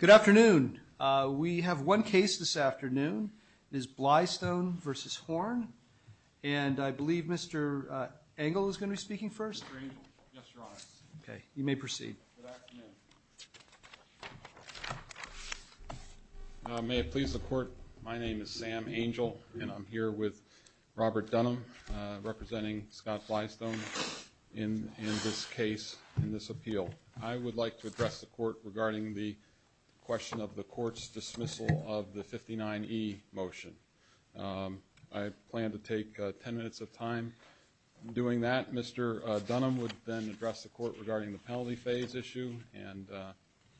Good afternoon. We have one case this afternoon. It is Blystone v. Horn, and I believe Mr. Engel is going to be speaking first. Yes, Your Honor. Okay. You may proceed. Good afternoon. May it please the Court, my name is Sam Engel, and I'm here with Robert Denham representing Scott Blystone in this case, in this appeal. I would like to address the Court regarding the question of the Court's dismissal of the 59E motion. I plan to take ten minutes of time doing that. Mr. Denham would then address the Court regarding the penalty phase issue and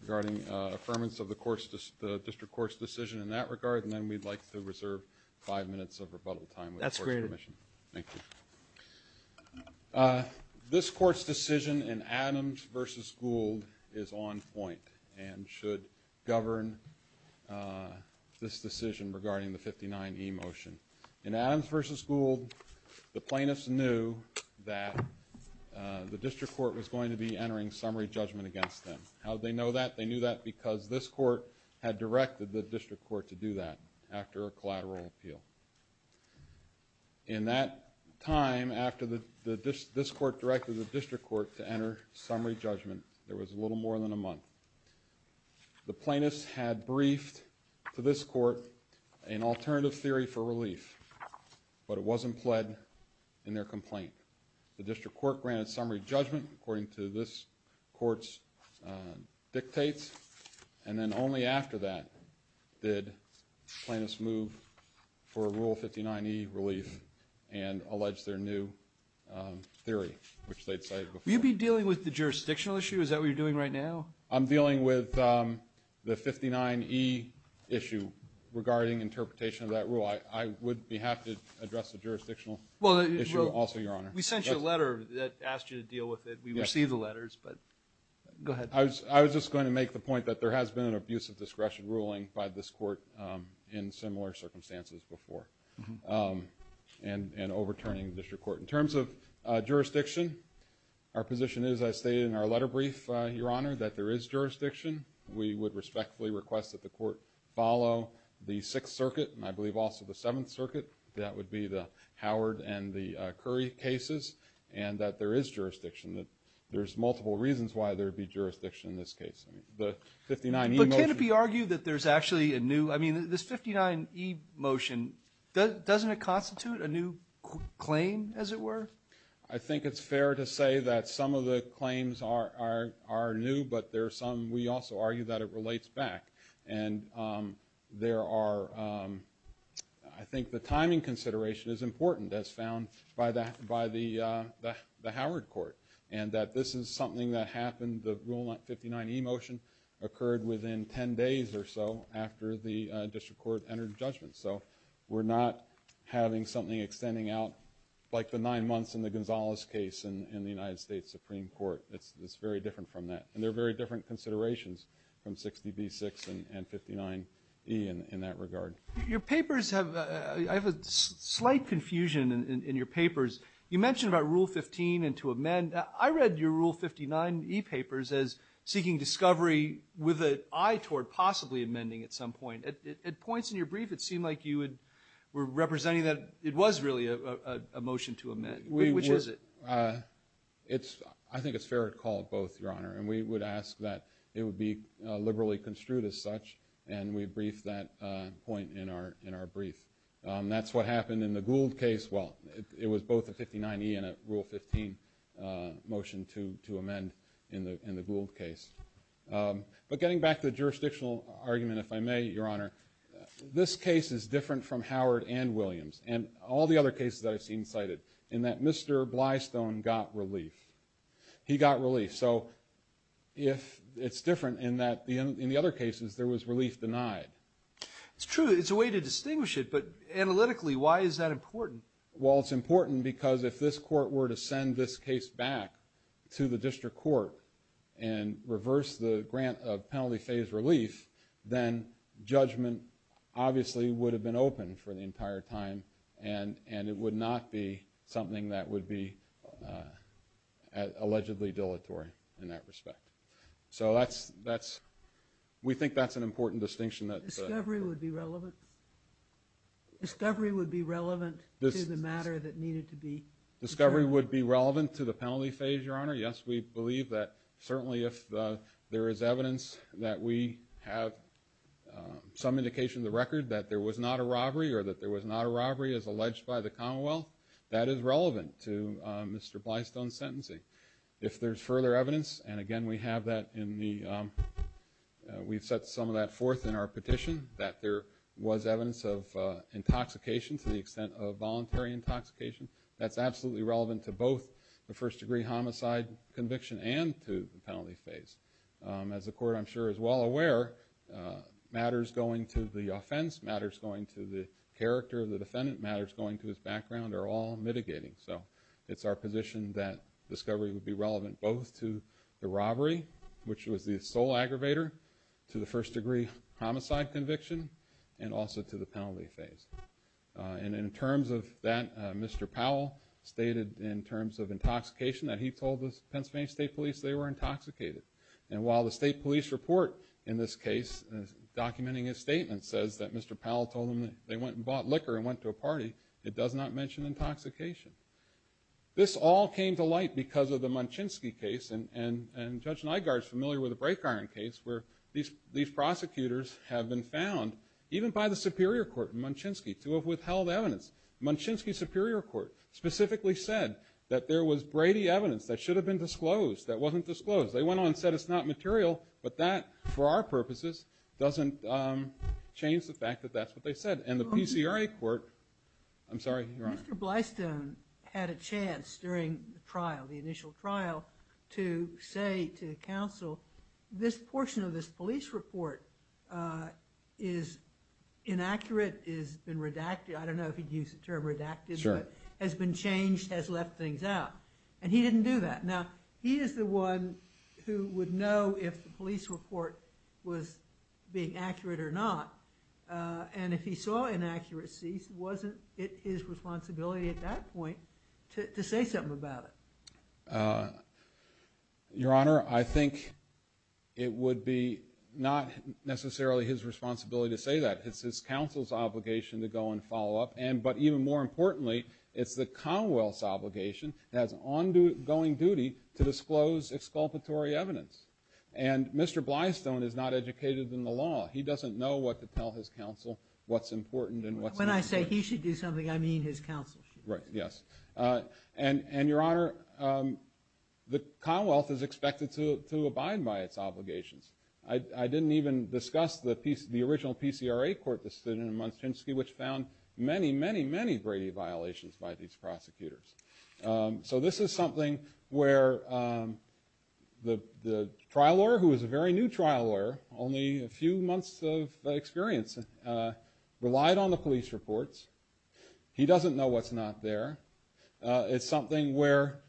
regarding affirmance of the District Court's decision in that regard, and then we'd like to reserve five minutes of rebuttal time. That's great. Thank you. This Court's decision in Adams v. Gould is on point and should govern this decision regarding the 59E motion. In Adams v. Gould, the plaintiffs knew that the District Court was going to be entering summary judgment against them. How did they know that? They knew that because this Court had directed the District Court to do that after a collateral appeal. In that time, after this Court directed the District Court to enter summary judgment, there was a little more than a month. The plaintiffs had briefed to this Court an alternative theory for relief, but it wasn't fled in their complaint. The District Court granted summary judgment according to this Court's dictates, and then only after that did plaintiffs move for a Rule 59E relief and allege their new theory, which they've cited before. Will you be dealing with the jurisdictional issue? Is that what you're doing right now? I'm dealing with the 59E issue regarding interpretation of that rule. I would be happy to address the jurisdictional issue also, Your Honor. We sent you a letter that asked you to deal with it. We received the letters, but go ahead. I was just going to make the point that there has been an abuse of discretion ruling by this Court in similar circumstances before, and overturning the District Court. In terms of jurisdiction, our position is, as stated in our letter brief, Your Honor, that there is jurisdiction. We would respectfully request that the Court follow the Sixth Circuit, and I believe also the Seventh Circuit. That would be the Howard and the Curry cases, and that there is jurisdiction. There's multiple reasons why there would be jurisdiction in this case. But can it be argued that there's actually a new – I mean, this 59E motion, doesn't it constitute a new claim, as it were? I think it's fair to say that some of the claims are new, but there are some we also argue that it relates back. And there are – I think the timing consideration is important, as found by the Howard Court, and that this is something that happened – the Rule 59E motion occurred within 10 days or so after the District Court entered judgment. So we're not having something extending out like the nine months in the Gonzalez case in the United States Supreme Court. It's very different from that, and there are very different considerations from 60B6 and 59E in that regard. Your papers have – I have a slight confusion in your papers. You mentioned about Rule 15 and to amend. I read your Rule 59E papers as seeking discovery with an eye toward possibly amending at some point. At points in your brief, it seemed like you were representing that it was really a motion to amend. Which is it? I think it's fair to call it both, Your Honor, and we would ask that it would be liberally construed as such, and we briefed that point in our brief. That's what happened in the Gould case. Well, it was both a 59E and a Rule 15 motion to amend in the Gould case. But getting back to the jurisdictional argument, if I may, Your Honor, this case is different from Howard and Williams and all the other cases that I've seen cited in that Mr. Blystone got relief. He got relief. So it's different in that in the other cases there was relief denied. It's true. It's a way to distinguish it, but analytically, why is that important? Well, it's important because if this court were to send this case back to the district court and reverse the penalty phase relief, then judgment obviously would have been open for the entire time, and it would not be something that would be allegedly dilatory in that respect. So we think that's an important distinction. Discovery would be relevant to the matter that needed to be discovered. Discovery would be relevant to the penalty phase, Your Honor. Yes, we believe that certainly if there is evidence that we have some indication of the record that there was not a robbery or that there was not a robbery as alleged by the Commonwealth, that is relevant to Mr. Blystone's sentencing. If there's further evidence, and again, we have that in the – we've set some of that forth in our petition, that there was evidence of intoxication to the extent of voluntary intoxication, that's absolutely relevant to both the first-degree homicide conviction and to the penalty phase. As the court, I'm sure, is well aware, matters going to the offense, matters going to the character of the defendant, matters going to his background are all mitigating. So it's our position that discovery would be relevant both to the robbery, which was the sole aggravator, to the first-degree homicide conviction, and also to the penalty phase. And in terms of that, Mr. Powell stated in terms of intoxication that he told the Pennsylvania State Police they were intoxicated. And while the State Police report in this case, documenting his statement, says that Mr. Powell told them that they went and bought liquor and went to a party, it does not mention intoxication. This all came to light because of the Munchinski case, and Judge Nygard's familiar with the Brake Iron case, where these prosecutors have been found, even by the Superior Court in Munchinski, to have withheld evidence. Munchinski's Superior Court specifically said that there was Brady evidence that should have been disclosed that wasn't disclosed. They went on and said it's not material, but that, for our purposes, doesn't change the fact that that's what they said. And the PCRA court – I'm sorry. Mr. Blystone had a chance during the trial, the initial trial, to say to the counsel, this portion of this police report is inaccurate, has been redacted. I don't know if he'd use the term redacted, but has been changed, has left things out. And he didn't do that. Now, he is the one who would know if the police report was being accurate or not. And if he saw inaccuracy, wasn't it his responsibility at that point to say something about it? Your Honor, I think it would be not necessarily his responsibility to say that. It's his counsel's obligation to go and follow up. But even more importantly, it's the Commonwealth's obligation as ongoing duty to disclose expulsatory evidence. And Mr. Blystone is not educated in the law. He doesn't know what to tell his counsel what's important and what's not. When I say he should do something, I mean his counsel. Yes. And, Your Honor, the Commonwealth is expected to abide by its obligations. I didn't even discuss the original PCRA court decision in Munkinski, which found many, many, many Brady violations by these prosecutors. So this is something where the trial lawyer, who is a very new trial lawyer, only a few months of experience, relied on the police reports. He doesn't know what's not there. It's something where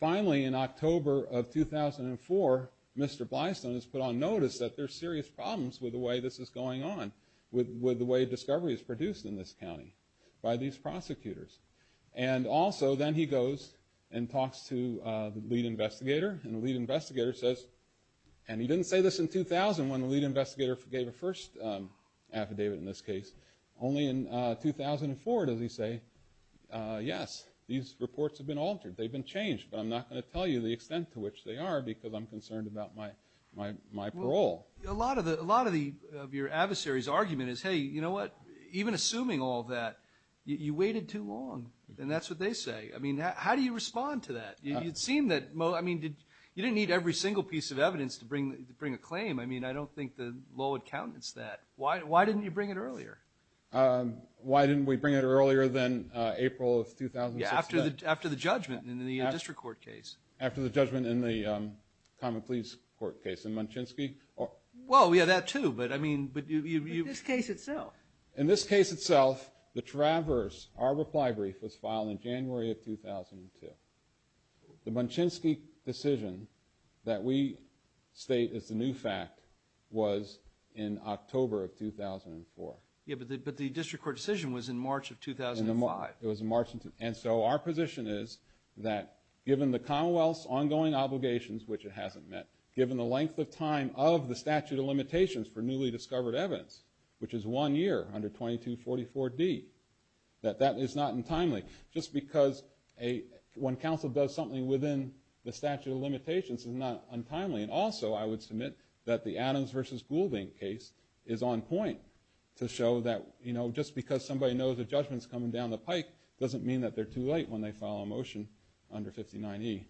finally in October of 2004, Mr. Blystone is put on notice that there's serious problems with the way this is going on, with the way discovery is produced in this county by these prosecutors. And also then he goes and talks to the lead investigator, and the lead investigator says, and he didn't say this in 2000 when the lead investigator gave a first affidavit in this case. Only in 2004 does he say, yes, these reports have been altered. They've been changed, but I'm not going to tell you the extent to which they are because I'm concerned about my parole. A lot of your adversary's argument is, hey, you know what? Even assuming all that, you waited too long. And that's what they say. I mean, how do you respond to that? You didn't need every single piece of evidence to bring a claim. I mean, I don't think the law accountants that. Why didn't you bring it earlier? Why didn't we bring it earlier than April of 2006? Yeah, after the judgment in the district court case. After the judgment in the Common Pleas court case. And Munchinski? Well, we had that too, but I mean... In this case itself. In this case itself, the Traverse, our reply brief, was filed in January of 2002. The Munchinski decision that we state as the new fact was in October of 2004. Yeah, but the district court decision was in March of 2005. It was in March. And so our position is that given the Commonwealth's ongoing obligations, which it hasn't met, given the length of time of the statute of limitations for newly discovered evidence, which is one year, under 2244D, that that is not untimely. Just because when counsel does something within the statute of limitations, it's not untimely. And also, I would submit that the Adams v. Goulding case is on point to show that, you know, just because somebody knows a judgment's coming down the pipe, doesn't mean that they're too late when they file a motion under 59E.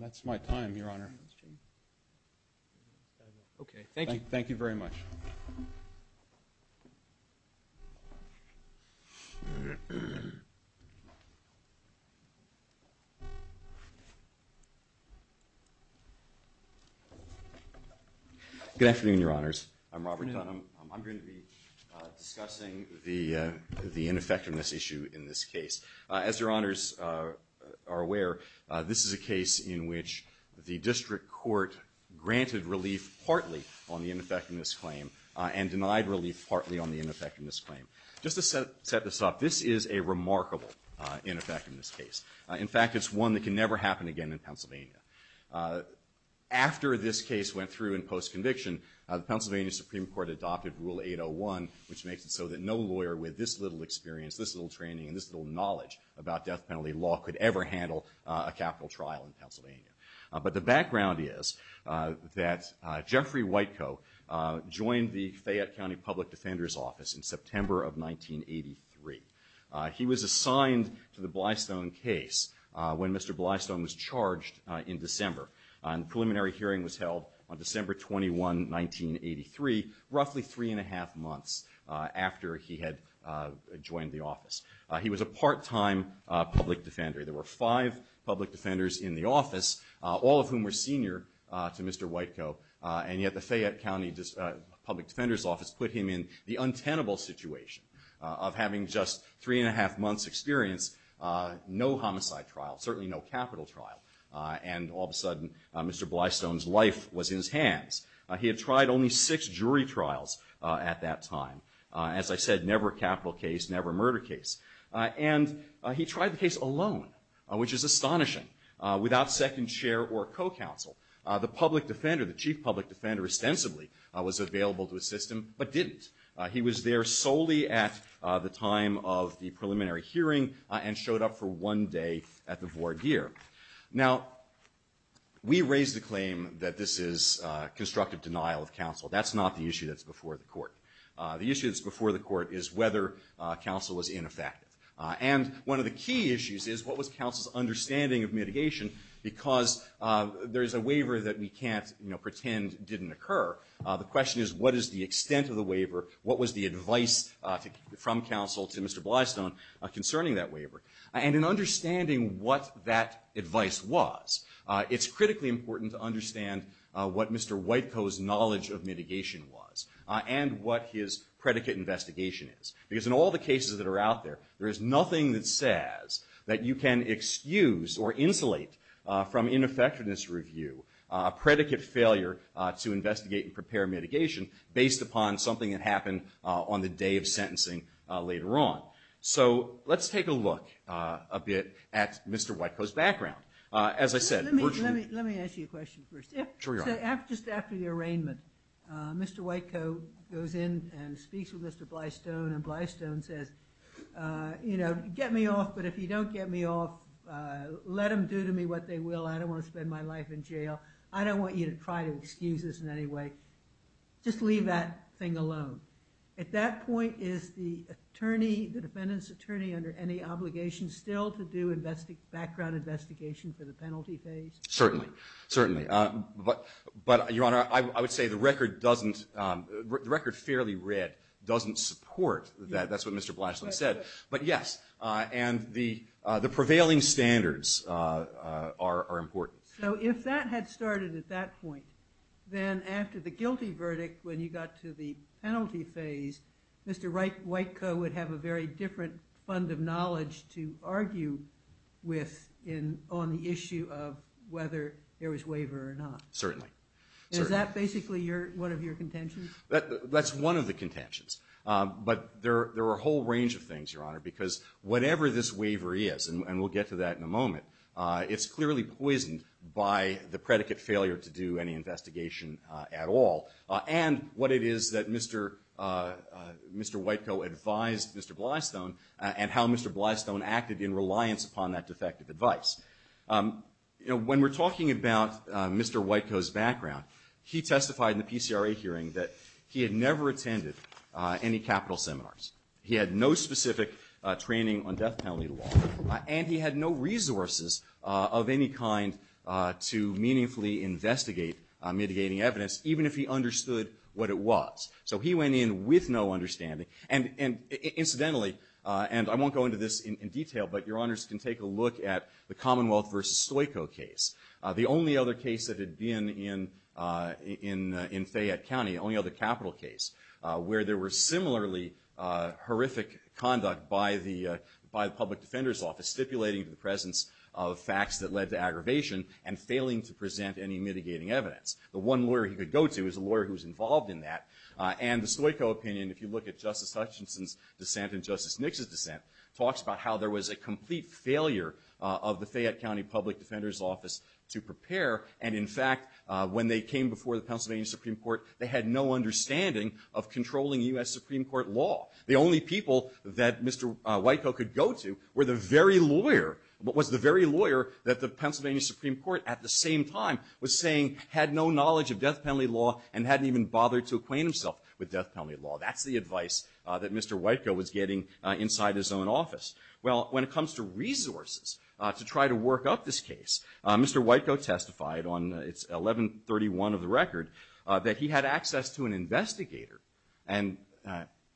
That's my time, Your Honor. Okay, thank you. Thank you very much. Thank you. Good afternoon, Your Honors. I'm Robert Dunham. I'm going to be discussing the ineffectiveness issue in this case. As Your Honors are aware, this is a case in which the district court granted relief partly on the ineffectiveness claim and denied relief partly on the ineffectiveness claim. Just to set this up, this is a remarkable ineffectiveness case. In fact, it's one that can never happen again in Pennsylvania. After this case went through in post-conviction, the Pennsylvania Supreme Court adopted Rule 801, which makes it so that no lawyer with this little experience, this little training, and this little knowledge about death penalty law could ever handle a capital trial in Pennsylvania. But the background is that Jeffrey Whitecoe joined the Fayette County Public Defender's Office in September of 1983. He was assigned to the Blystone case when Mr. Blystone was charged in December. A preliminary hearing was held on December 21, 1983, roughly three and a half months after he had joined the office. He was a part-time public defender. There were five public defenders in the office, all of whom were senior to Mr. Whitecoe, and yet the Fayette County Public Defender's Office put him in the untenable situation of having just three and a half months' experience, no homicide trial, certainly no capital trial, and all of a sudden Mr. Blystone's life was in his hands. He had tried only six jury trials at that time. As I said, never capital case, never murder case. And he tried the case alone, which is astonishing, without second chair or co-counsel. The public defender, the chief public defender, ostensibly was available to assist him, but didn't. He was there solely at the time of the preliminary hearing and showed up for one day at the voir dire. Now, we raise the claim that this is constructive denial of counsel. That's not the issue that's before the court. The issue that's before the court is whether counsel was ineffective. And one of the key issues is what was counsel's understanding of mitigation, because there is a waiver that we can't pretend didn't occur. The question is, what is the extent of the waiver? What was the advice from counsel to Mr. Blystone concerning that waiver? And in understanding what that advice was, it's critically important to understand what Mr. Whitecoe's knowledge of mitigation was and what his predicate investigation is. Because in all the cases that are out there, there is nothing that says that you can excuse or insulate from ineffectiveness review a predicate failure to investigate and prepare mitigation, based upon something that happened on the day of sentencing later on. So let's take a look a bit at Mr. Whitecoe's background. Let me ask you a question first. Just after the arraignment, Mr. Whitecoe goes in and speaks with Mr. Blystone, and Blystone says, you know, get me off, but if you don't get me off, let them do to me what they will. I don't want to spend my life in jail. I don't want you to try to excuse us in any way. Just leave that thing alone. At that point, is the attorney, the defendant's attorney, under any obligation still to do background investigation for the penalty phase? Certainly. Certainly. But, Your Honor, I would say the record fairly red doesn't support that. That's what Mr. Blystone said. But, yes, and the prevailing standards are important. So if that had started at that point, then after the guilty verdict, when you got to the penalty phase, Mr. Whitecoe would have a very different fund of knowledge to argue with on the issue of whether there was waiver or not. Certainly. Is that basically one of your contentions? That's one of the contentions. But there are a whole range of things, Your Honor, because whatever this waiver is, and we'll get to that in a moment, it's clearly poisoned by the predicate failure to do any investigation at all, and what it is that Mr. Whitecoe advised Mr. Blystone and how Mr. Blystone acted in reliance upon that defective advice. When we're talking about Mr. Whitecoe's background, he testified in the PCRA hearing that he had never attended any capital seminars. He had no specific training on death penalty law, and he had no resources of any kind to meaningfully investigate mitigating evidence, even if he understood what it was. So he went in with no understanding, and incidentally, and I won't go into this in detail, but Your Honors can take a look at the Commonwealth v. Stoico case, the only other case that had been in Fayette County, the only other capital case, where there were similarly horrific conduct by the public defender's office, stipulating the presence of facts that led to aggravation and failing to present any mitigating evidence. The one lawyer he could go to is a lawyer who was involved in that, and the Stoico opinion, if you look at Justice Hutchinson's dissent and Justice Nixon's dissent, talks about how there was a complete failure of the Fayette County public defender's office to prepare, and in fact, when they came before the Pennsylvania Supreme Court, they had no understanding of controlling U.S. Supreme Court law. The only people that Mr. Whitecoat could go to were the very lawyer, was the very lawyer that the Pennsylvania Supreme Court at the same time was saying had no knowledge of death penalty law and hadn't even bothered to acquaint himself with death penalty law. That's the advice that Mr. Whitecoat was getting inside his own office. Well, when it comes to resources to try to work up this case, Mr. Whitecoat testified on 1131 of the record that he had access to an investigator, and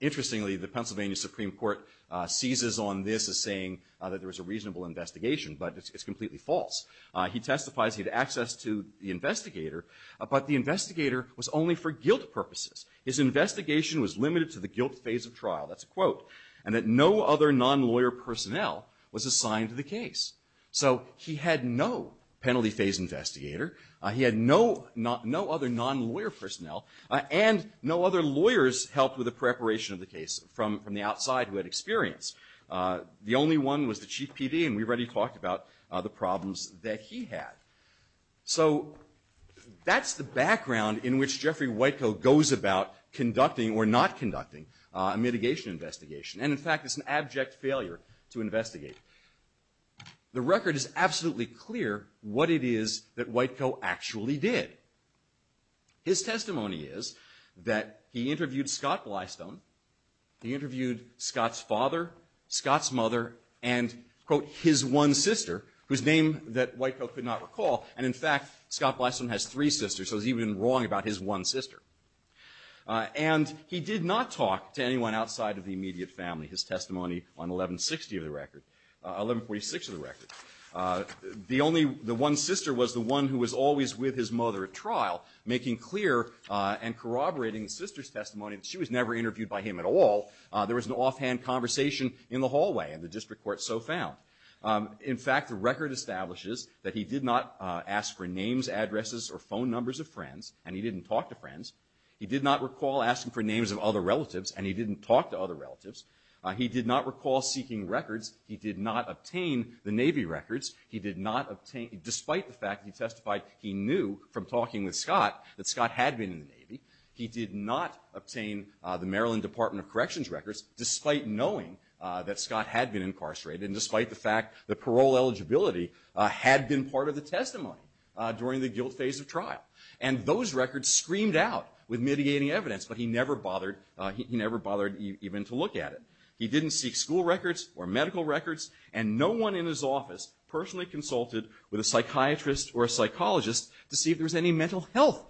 interestingly, the Pennsylvania Supreme Court seizes on this as saying that there was a reasonable investigation, but it's completely false. He testified he had access to the investigator, but the investigator was only for guilt purposes. His investigation was limited to the guilt phase of trial, that's a quote, and that no other non-lawyer personnel was assigned to the case. So he had no penalty phase investigator, he had no other non-lawyer personnel, and no other lawyers helped with the preparation of the case from the outside who had experience. The only one was the chief PD, and we've already talked about the problems that he had. So that's the background in which Jeffrey Whitecoat goes about conducting or not conducting a mitigation investigation, and in fact it's an abject failure to investigate. The record is absolutely clear what it is that Whitecoat actually did. His testimony is that he interviewed Scott Glystone, he interviewed Scott's father, Scott's mother, and quote, his one sister, whose name that Whitecoat could not recall, and in fact Scott Glystone has three sisters, so he was even wrong about his one sister. And he did not talk to anyone outside of the immediate family, his testimony on 1160 of the record, 1146 of the record. The only, the one sister was the one who was always with his mother at trial, making clear and corroborating his sister's testimony, and she was never interviewed by him at all. There was an offhand conversation in the hallway, and the district court so found. In fact, the record establishes that he did not ask for names, addresses, or phone numbers of friends, and he didn't talk to friends, he did not recall asking for names of other relatives, and he didn't talk to other relatives, he did not recall seeking records, he did not obtain the Navy records, he did not obtain, despite the fact he testified he knew from talking with Scott that Scott had been in the Navy, he did not obtain the Maryland Department of Corrections records, despite knowing that Scott had been incarcerated, and despite the fact that parole eligibility had been part of the testimony during the guilt phase of trial. And those records screamed out with mitigating evidence, but he never bothered, he never bothered even to look at it. He didn't seek school records or medical records, and no one in his office personally consulted with a psychiatrist or a psychologist to see if there was any mental health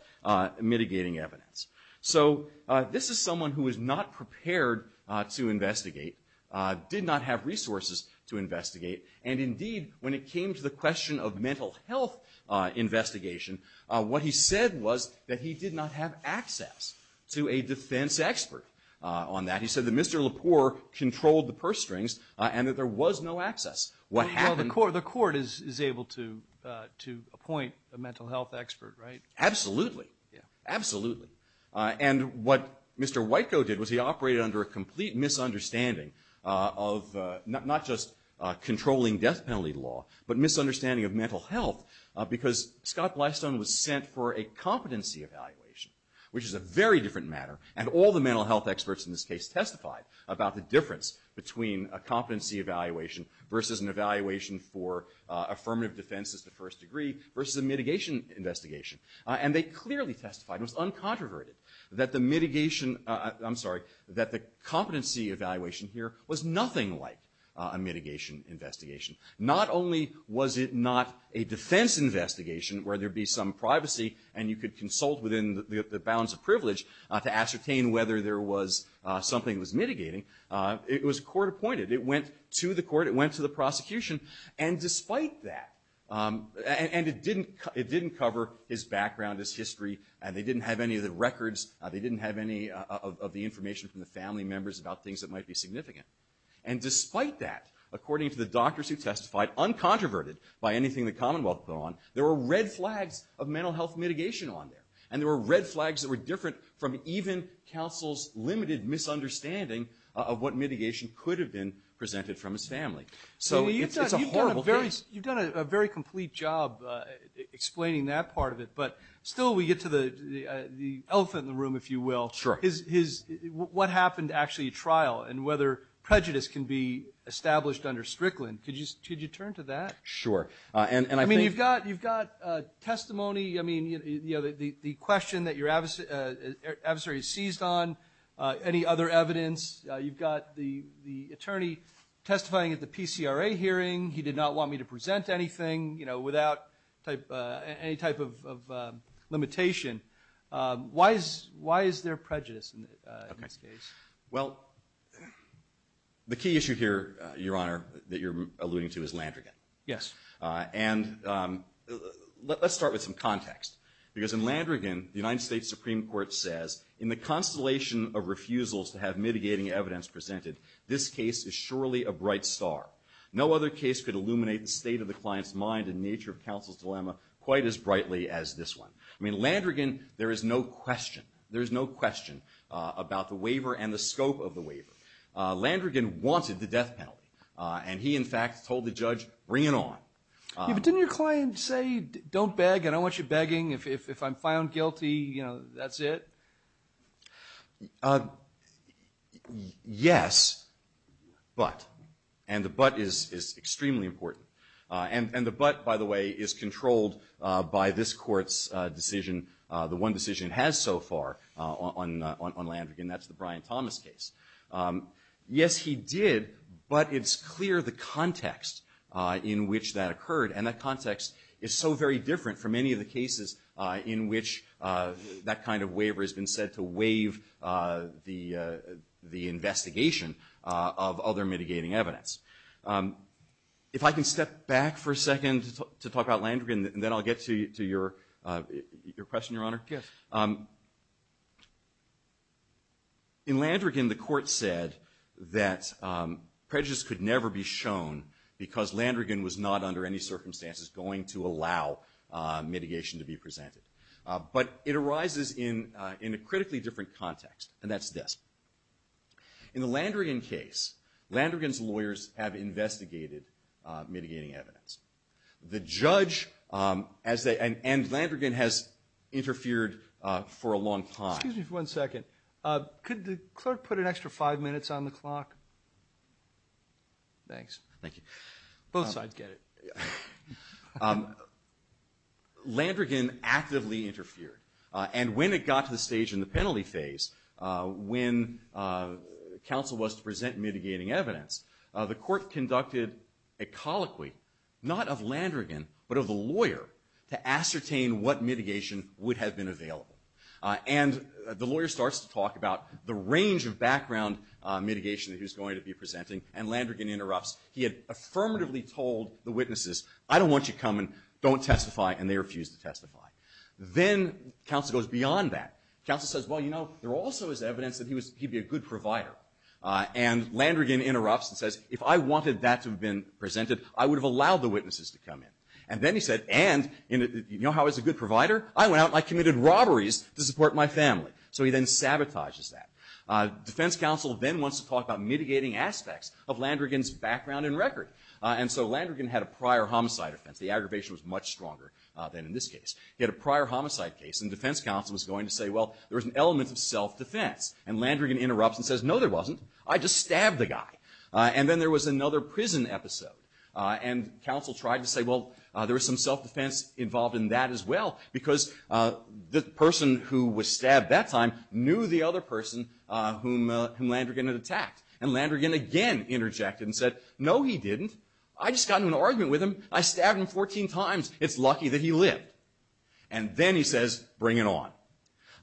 mitigating evidence. So this is someone who was not prepared to investigate, did not have resources to investigate, and indeed when it came to the question of mental health investigation, what he said was that he did not have access to a defense expert on that. He said that Mr. Lepore controlled the purse strings and that there was no access. The court is able to appoint a mental health expert, right? Absolutely, absolutely. And what Mr. Whitecoat did was he operated under a complete misunderstanding of not just controlling death penalty law, but misunderstanding of mental health because Scott Blystone was sent for a competency evaluation, which is a very different matter, and all the mental health experts in this case testified about the difference between a competency evaluation versus an evaluation for affirmative defense as the first degree, versus a mitigation investigation. And they clearly testified, it was uncontroverted, that the mitigation, I'm sorry, that the competency evaluation here was nothing like a mitigation investigation. Not only was it not a defense investigation where there'd be some privacy and you could consult within the bounds of privilege to ascertain whether there was something that was mitigating, it was court appointed. It went to the court, it went to the prosecution. And despite that, and it didn't cover his background, his history, and they didn't have any of the records, they didn't have any of the information from the family members about things that might be significant. And despite that, according to the doctors who testified, uncontroverted by anything the Commonwealth put on, there were red flags of mental health mitigation on there. And there were red flags that were different from even counsel's limited misunderstanding of what mitigation could have been presented from his family. So it's a horrible thing. You've done a very complete job explaining that part of it, but still we get to the elephant in the room, if you will. Sure. What happened to actually trial and whether prejudice can be established under Strickland? Could you turn to that? Sure. I mean, you've got testimony, I mean, you know, the question that your adversary seized on, any other evidence. You've got the attorney testifying at the PCRA hearing. He did not want me to present anything, you know, without any type of limitation. Why is there prejudice in this case? Well, the key issue here, Your Honor, that you're alluding to is Landrigan. Yes. And let's start with some context. Because in Landrigan, the United States Supreme Court says, in the constellation of refusals to have mitigating evidence presented, this case is surely a bright star. No other case could illuminate the state of the client's mind and nature of counsel's dilemma quite as brightly as this one. I mean, Landrigan, there is no question, there is no question about the waiver and the scope of the waiver. Landrigan wanted the death penalty. And he, in fact, told the judge, bring it on. Didn't your client say, don't beg, I don't want you begging, if I'm found guilty, you know, that's it? Yes, but. And the but is extremely important. And the but, by the way, is controlled by this court's decision, the one decision it has so far on Landrigan, that's the Brian Thomas case. Yes, he did, but it's clear the context in which that occurred. And that context is so very different from any of the cases in which that kind of waiver has been said to waive the investigation of other mitigating evidence. If I can step back for a second to talk about Landrigan, and then I'll get to your question, Your Honor. Yes. In Landrigan, the court said that prejudice could never be shown because Landrigan was not under any circumstances going to allow mitigation to be presented. But it arises in a critically different context, and that's this. In the Landrigan case, Landrigan's lawyers have investigated mitigating evidence. The judge, and Landrigan has interfered for a long time. Excuse me for one second. Could the clerk put an extra five minutes on the clock? Thanks. Both sides get it. Landrigan actively interfered. And when it got to the stage in the penalty phase, when counsel was to present mitigating evidence, the court conducted a colloquy, not of Landrigan, but of a lawyer, to ascertain what mitigation would have been available. And the lawyer starts to talk about the range of background mitigation that he was going to be presenting, and Landrigan interrupts. He had affirmatively told the witnesses, I don't want you coming, don't testify, and they refused to testify. Then counsel goes beyond that. Counsel says, well, you know, there also is evidence that he'd be a good provider. And Landrigan interrupts and says, if I wanted that to have been presented, I would have allowed the witnesses to come in. And then he said, and, you know how I was a good provider? I went out and I committed robberies to support my family. So he then sabotages that. Defense counsel then wants to talk about mitigating aspects of Landrigan's background and record. And so Landrigan had a prior homicide offense. The aggravation was much stronger than in this case. He had a prior homicide case, and defense counsel was going to say, well, there was an element of self-defense. And Landrigan interrupts and says, no, there wasn't. I just stabbed the guy. And then there was another prison episode. And counsel tried to say, well, there was some self-defense involved in that as well, because the person who was stabbed that time knew the other person whom Landrigan had attacked. And Landrigan again interjected and said, no, he didn't. I just got into an argument with him. I stabbed him 14 times. It's lucky that he lived. And then he says, bring it on.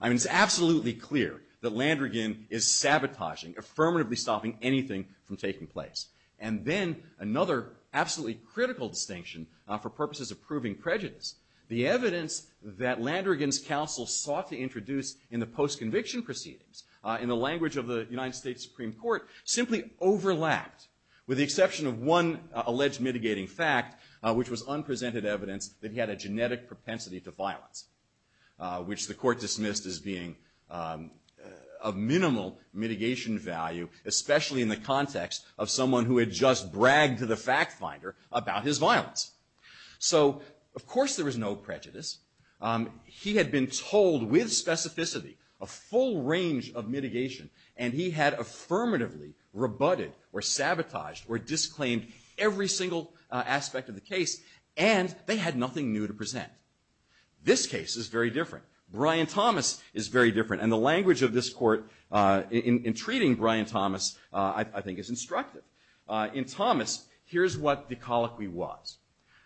I mean, it's absolutely clear that Landrigan is sabotaging, affirmatively stopping anything from taking place. And then another absolutely critical distinction for purposes of proving prejudice, the evidence that Landrigan's counsel sought to introduce in the post-conviction proceedings, in the language of the United States Supreme Court, simply overlapped with the exception of one alleged mitigating fact, which was unprecedented evidence that he had a genetic propensity to violence, which the court dismissed as being of minimal mitigation value, especially in the context of someone who had just bragged to the fact finder about his violence. So, of course, there was no prejudice. He had been told with specificity a full range of mitigation, and he had affirmatively rebutted or sabotaged or disclaimed every single aspect of the case, and they had nothing new to present. This case is very different. Brian Thomas is very different. And the language of this court in treating Brian Thomas, I think, is instructive. In Thomas, here's what the colloquy was.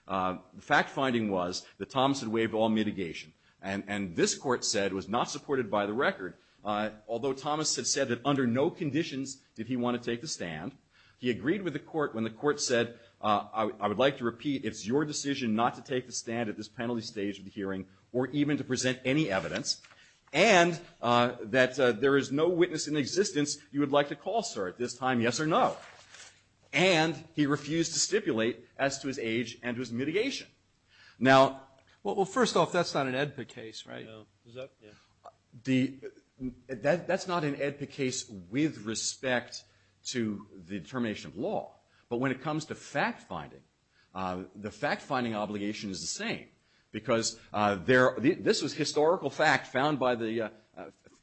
The fact finding was that Thomas had waived all mitigation, and this court said was not supported by the record. Although Thomas had said that under no conditions did he want to take the stand, he agreed with the court when the court said, I would like to repeat it's your decision not to take the stand at this penalty stage of the hearing or even to present any evidence, and that there is no witness in existence you would like to call, sir, at this time, yes or no. And he refused to stipulate as to his age and his mitigation. Now, well, first off, that's not an AEDPA case, right? No. That's not an AEDPA case with respect to the determination of law. But when it comes to fact finding, the fact finding obligation is the same because this was historical fact found by the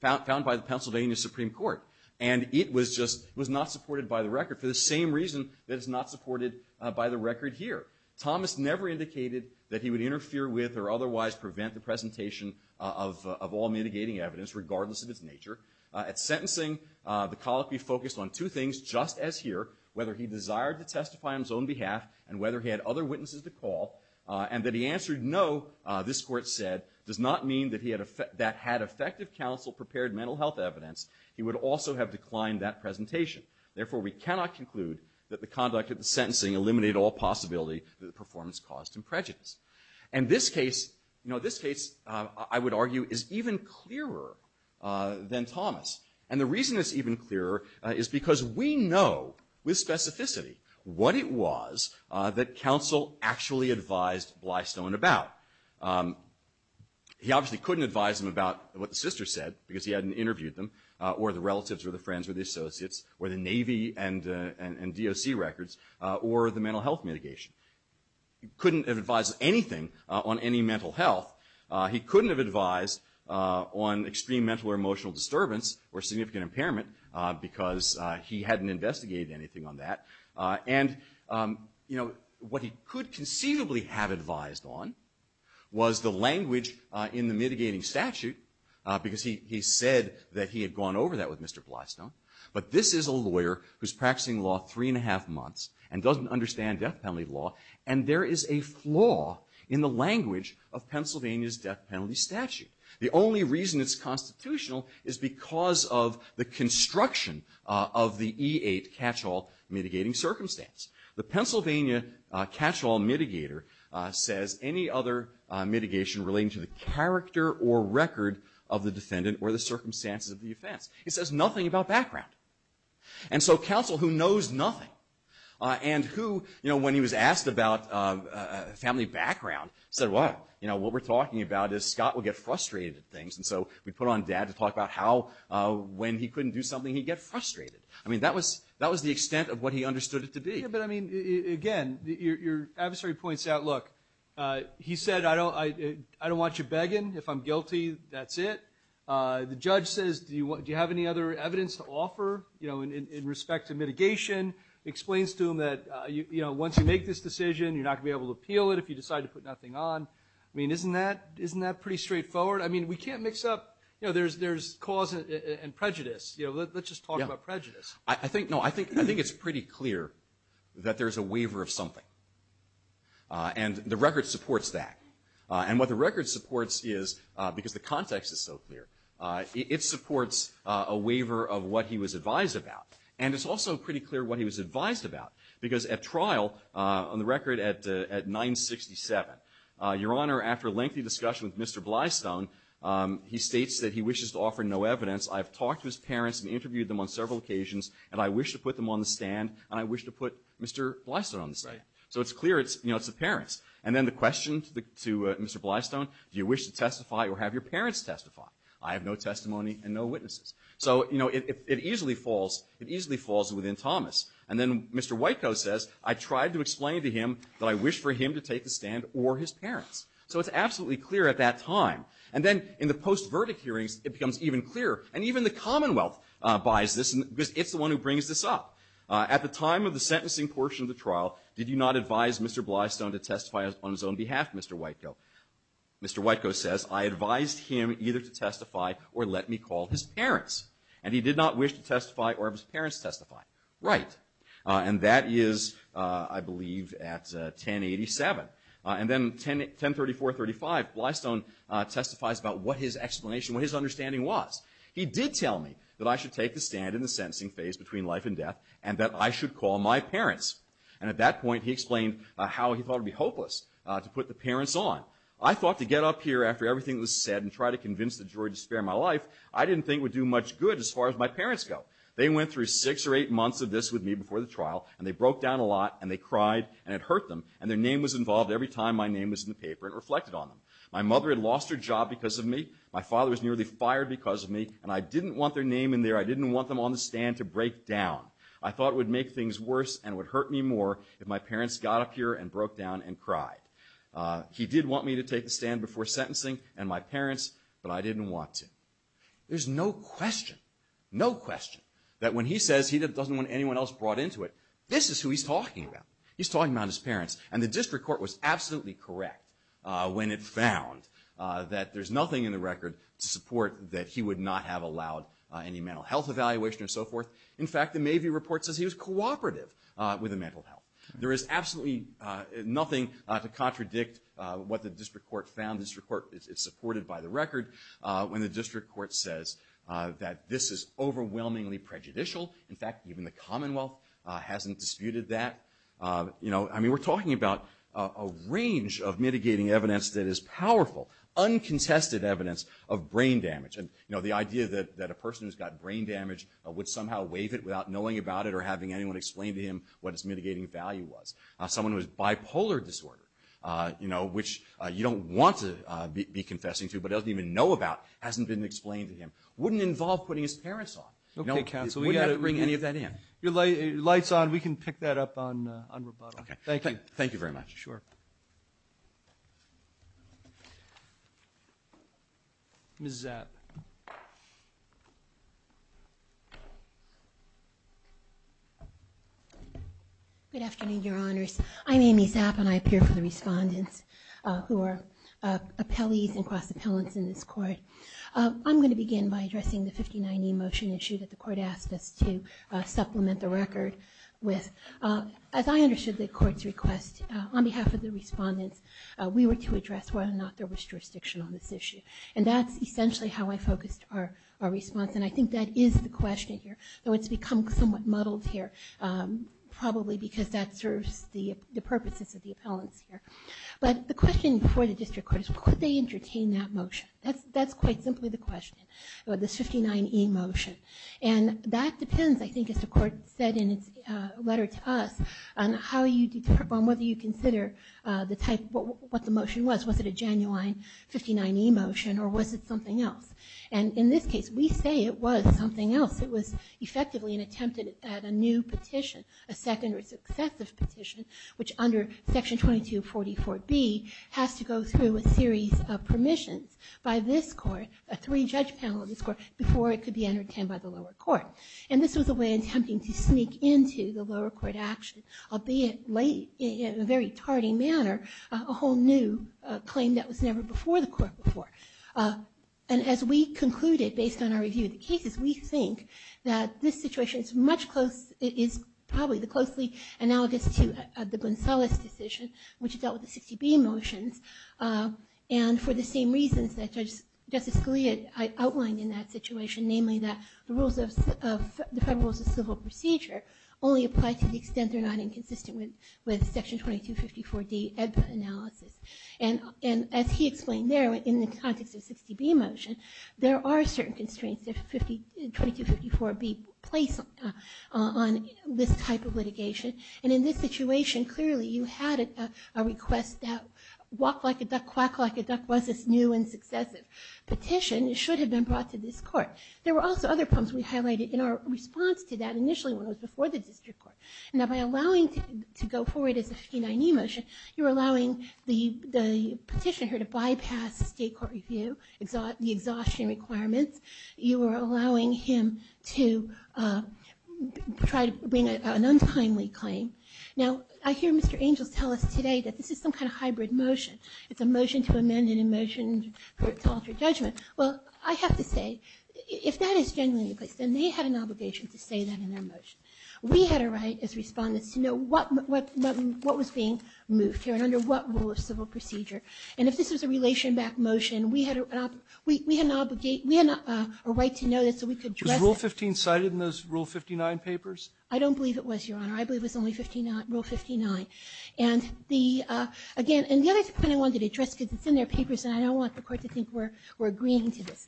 Pennsylvania Supreme Court, and it was just not supported by the record for the same reason that it's not supported by the record here. Thomas never indicated that he would interfere with or otherwise prevent the presentation of all mitigating evidence, regardless of its nature. At sentencing, the college be focused on two things, just as here, whether he desired to testify on his own behalf and whether he had other witnesses to call, and that he answered no, this court said, does not mean that that had effective counsel-prepared mental health evidence. He would also have declined that presentation. Therefore, we cannot conclude that the conduct at the sentencing eliminated all possibility that the performance caused him prejudice. And this case, you know, this case, I would argue, is even clearer than Thomas. And the reason it's even clearer is because we know with specificity what it was that counsel actually advised Blystone about. He obviously couldn't advise him about what the sister said because he hadn't interviewed them, or the relatives, or the friends, or the associates, or the Navy and DOC records, or the mental health mitigation. He couldn't have advised anything on any mental health. He couldn't have advised on extreme mental or emotional disturbance or significant impairment because he hadn't investigated anything on that. And, you know, what he could conceivably have advised on was the language in the mitigating statute because he said that he had gone over that with Mr. Blystone. But this is a lawyer who's practicing law three and a half months and doesn't understand death penalty law, and there is a flaw in the language of Pennsylvania's death penalty statute. The only reason it's constitutional is because of the construction of the E-8 catch-all mitigating circumstance. The Pennsylvania catch-all mitigator says any other mitigation relating to the character or record of the defendant or the circumstances of the offense. It says nothing about background. And so counsel who knows nothing and who, you know, when he was asked about family background said, well, you know, what we're talking about is Scott would get frustrated at things, and so we put on dad to talk about how when he couldn't do something he'd get frustrated. I mean, that was the extent of what he understood it to be. But, I mean, again, your adversary points out, look, he said, I don't want you begging. If I'm guilty, that's it. The judge says, do you have any other evidence to offer, you know, in respect to mitigation? Explains to him that, you know, once you make this decision, you're not going to be able to appeal it if you decide to put that thing on. I mean, isn't that pretty straightforward? I mean, we can't mix up, you know, there's cause and prejudice. You know, let's just talk about prejudice. I think it's pretty clear that there's a waiver of something, and the record supports that. And what the record supports is, because the context is so clear, it supports a waiver of what he was advised about. And it's also pretty clear what he was advised about, because at trial, on the record, at 967, Your Honor, after a lengthy discussion with Mr. Blystone, he states that he wishes to offer no evidence. I've talked to his parents and interviewed them on several occasions, and I wish to put them on the stand, and I wish to put Mr. Blystone on the side. So it's clear, you know, it's the parents. And then the question to Mr. Blystone, do you wish to testify or have your parents testify? I have no testimony and no witnesses. So, you know, it easily falls within Thomas. And then Mr. White, though, says, I tried to explain to him that I wish for him to take the stand or his parents. So it's absolutely clear at that time. And then in the post-verdict hearings, it becomes even clearer. And even the Commonwealth buys this, because it's the one who brings this up. At the time of the sentencing portion of the trial, did you not advise Mr. Blystone to testify on his own behalf, Mr. White, though? Mr. White, though, says, I advised him either to testify or let me call his parents. And he did not wish to testify or have his parents testify. Right. And that is, I believe, at 1087. And then 1034-35, Blystone testifies about what his explanation, what his understanding was. He did tell me that I should take the stand in the sentencing phase between life and death and that I should call my parents. And at that point, he explained how he thought it would be hopeless to put the parents on. I thought to get up here after everything was said and try to convince the jury to spare my life, I didn't think would do much good as far as my parents go. They went through six or eight months of this with me before the trial. And they broke down a lot. And they cried. And it hurt them. And their name was involved every time my name was in the paper. It reflected on them. My mother had lost her job because of me. My father was nearly fired because of me. And I didn't want their name in there. I didn't want them on the stand to break down. I thought it would make things worse and it would hurt me more if my parents got up here and broke down and cried. He did want me to take the stand before sentencing and my parents, but I didn't want to. There's no question, no question that when he says he doesn't want anyone else brought into it, this is who he's talking about. He's talking about his parents. And the district court was absolutely correct when it found that there's nothing in the record to support that he would not have allowed any mental health evaluation and so forth. In fact, the Mabee report says he was cooperative with the mental health. There is absolutely nothing to contradict what the district court found. This report is supported by the record when the district court says that this is overwhelmingly prejudicial. In fact, even the Commonwealth hasn't disputed that. I mean, we're talking about a range of mitigating evidence that is powerful, uncontested evidence of brain damage. And the idea that a person who's got brain damage would somehow waive it without knowing about it or having anyone explain to him what his mitigating value was. Someone who has bipolar disorder, which you don't want to be confessing to but doesn't even know about, hasn't been explained to him, wouldn't involve putting his parents on. Okay, counsel, we've got to bring any of that in. Your light's on. We can pick that up on rebuttal. Thank you. Thank you very much. Sure. Ms. Zapp. Good afternoon, Your Honors. I'm Amy Zapp, and I appear for the respondents who are appellees and cross-appellants in this court. I'm going to begin by addressing the 59E motion issue that the court asked us to supplement the record with. As I understood the court's request, on behalf of the respondents, we were to address whether or not there was jurisdiction on this issue. And that's essentially how I focused our response, and I think that is the question here. So it's become somewhat muddled here, probably because that serves the purposes of the appellants here. But the question before the district court is, could they entertain that motion? That's quite simply the question, the 59E motion. And that depends, I think, as the court said in its letter to us, on whether you consider what the motion was. Was it a genuine 59E motion, or was it something else? And in this case, we say it was something else. It was effectively an attempt at a new petition, a second or successive petition, which under Section 2244B has to go through a series of permissions by this court, a three-judge panel of this court, before it could be entertained by the lower court. And this was a way of attempting to sneak into the lower court action, albeit in a very tardy manner, a whole new claim that was never before the court before. And as we concluded, based on our review of the cases, we think that this situation is probably the closely analogous to the Gonzalez decision, which dealt with the 60B motion. And for the same reasons that Justice Scalia outlined in that situation, namely that the Federal Rules of Civil Procedure only apply to the extent they're not inconsistent with Section 2254D EBSA analysis. And as he explained there, in the context of the 60B motion, there are certain constraints that 2254B placed on this type of litigation. And in this situation, clearly you had a request that, walk like a duck, quack like a duck, was this new and successive petition. It should have been brought to this court. There were also other problems we highlighted in our response to that, initially when it was before the district court. Now, by allowing it to go forward as a 69E motion, you're allowing the petitioner to bypass the state court review, the exhaustion requirements. You are allowing him to try to bring an untimely claim. Now, I hear Mr. Angel tell us today that this is some kind of hybrid motion. It's a motion to amend and a motion to resolve for judgment. Well, I have to say, if that is standing in place, then they had an obligation to say that in their motion. We had a right as respondents to know what was being moved here and under what rule of civil procedure. And if this is a relation-backed motion, we had a right to know this so we could address it. Was Rule 15 cited in those Rule 59 papers? I don't believe it was, Your Honor. I believe it was only Rule 59. And the other thing I wanted to address, because it's in their papers and I don't want the court to think we're agreeing to this.